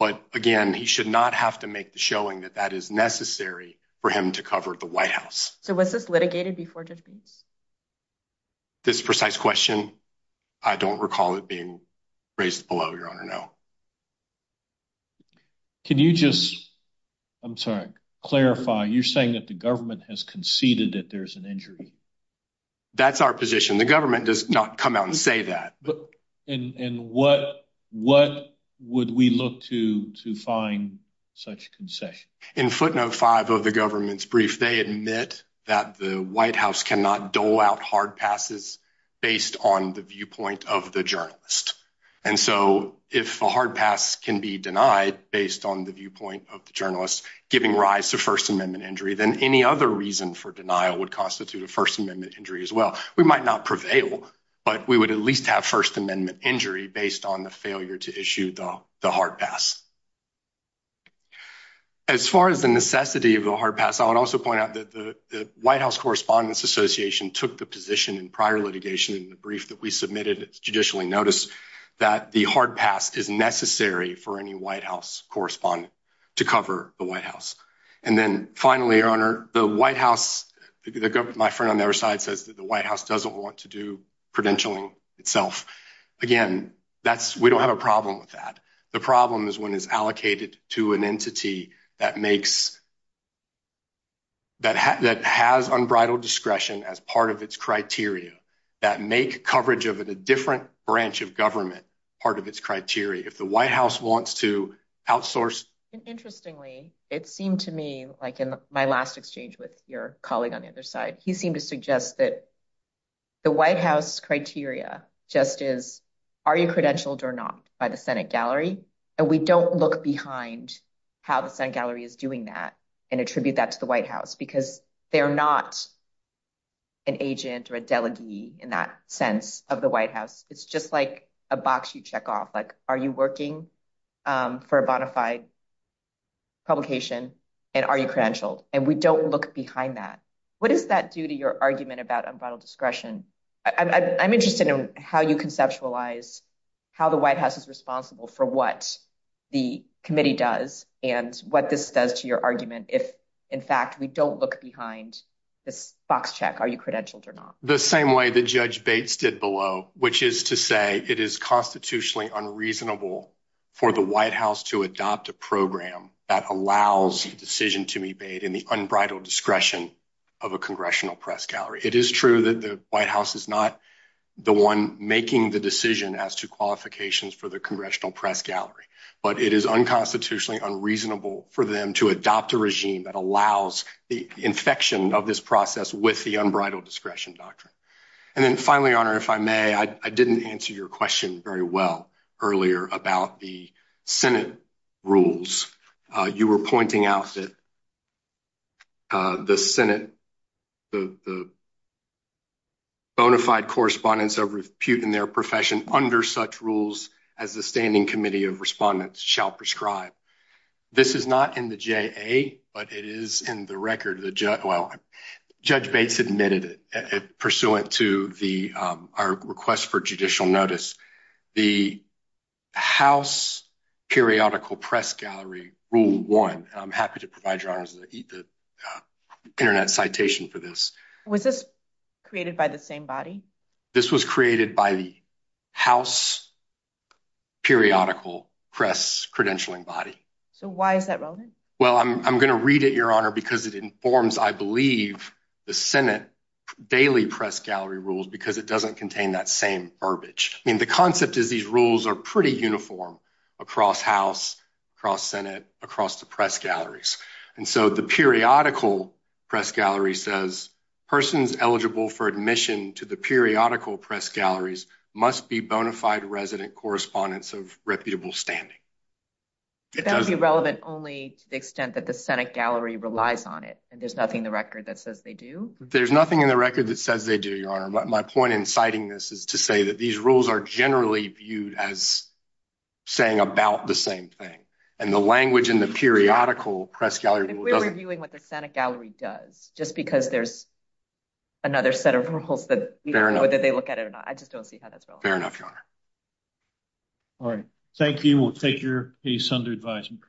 But again, he should not have to make the showing that that is necessary for him to cover the White House. So was this litigated before Judge Bates? This precise question, I don't recall it being raised below, Your Honor, no. Can you just... I'm sorry, clarify, you're saying that the government has conceded that there's an injury? That's our position. The government does not come out and say that. And what would we look to find such concession? In footnote five of the government's brief, they admit that the White House cannot dole out hard passes based on the viewpoint of the denied based on the viewpoint of the journalist giving rise to First Amendment injury than any other reason for denial would constitute a First Amendment injury as well. We might not prevail, but we would at least have First Amendment injury based on the failure to issue the hard pass. As far as the necessity of the hard pass, I would also point out that the White House Correspondents Association took the position in prior litigation in the brief that we submitted judicially notice that the hard pass is necessary for any White House correspondent to cover the White House. And then finally, Your Honor, the White House, my friend on the other side says that the White House doesn't want to do credentialing itself. Again, we don't have a problem with that. The problem is when it's allocated to an entity that has unbridled discretion as part of its criteria that make coverage of a different branch of government part of its criteria. If the White House wants to outsource... Interestingly, it seemed to me like in my last exchange with your colleague on the other side, he seemed to suggest that the White House criteria just is, are you credentialed or not by the Senate gallery? And we don't look behind how the Senate gallery is doing that and attribute that to the White House because they're not an agent or a delegee in that sense of the White House. It's just like a box you check off. Like, are you working for a bona fide publication and are you credentialed? And we don't look behind that. What does that do to your argument about unbridled discretion? I'm interested in how you conceptualize how the White House is responsible for what the committee does and what this does to your argument if, in fact, we don't look behind this box check. Are you credentialed or not? The same way that Judge Bates did below, which is to say it is constitutionally unreasonable for the White House to adopt a program that allows a decision to be made in the unbridled discretion of a congressional press gallery. It is true that the White House is not the one making the decision as to qualifications for the congressional press gallery, but it is unconstitutionally unreasonable for them to adopt a regime that allows the infection of this process with the unbridled discretion doctrine. And then finally, Honor, if I may, I didn't answer your question very well earlier about the Senate rules. You were pointing out that the Senate, the bona fide correspondence of repute in their profession under such rules as the Standing Committee of Respondents shall prescribe. This is not in the JA, but it is in the record. Judge Bates admitted it pursuant to our request for judicial notice. The House Periodical Press Gallery Rule 1, and I'm happy to provide your Honor the internet citation for this. Was this created by the same body? This was created by the House Periodical Press Credentialing Body. So why is that relevant? Well, I'm going to read it, Your Honor, because it informs, I believe, the Senate daily press gallery rules because it doesn't contain that same verbiage. I mean, the concept is these rules are pretty uniform across House, across Senate, across the press galleries must be bona fide resident correspondence of reputable standing. It doesn't be relevant only to the extent that the Senate gallery relies on it, and there's nothing in the record that says they do. There's nothing in the record that says they do, Your Honor. My point in citing this is to say that these rules are generally viewed as saying about the same thing and the language in the periodical press gallery. We're reviewing what the Senate gallery does just because there's another set of rules that whether they look at it or not. I just don't see how that's relevant. Fair enough, Your Honor. All right. Thank you. We'll take your case under advisement.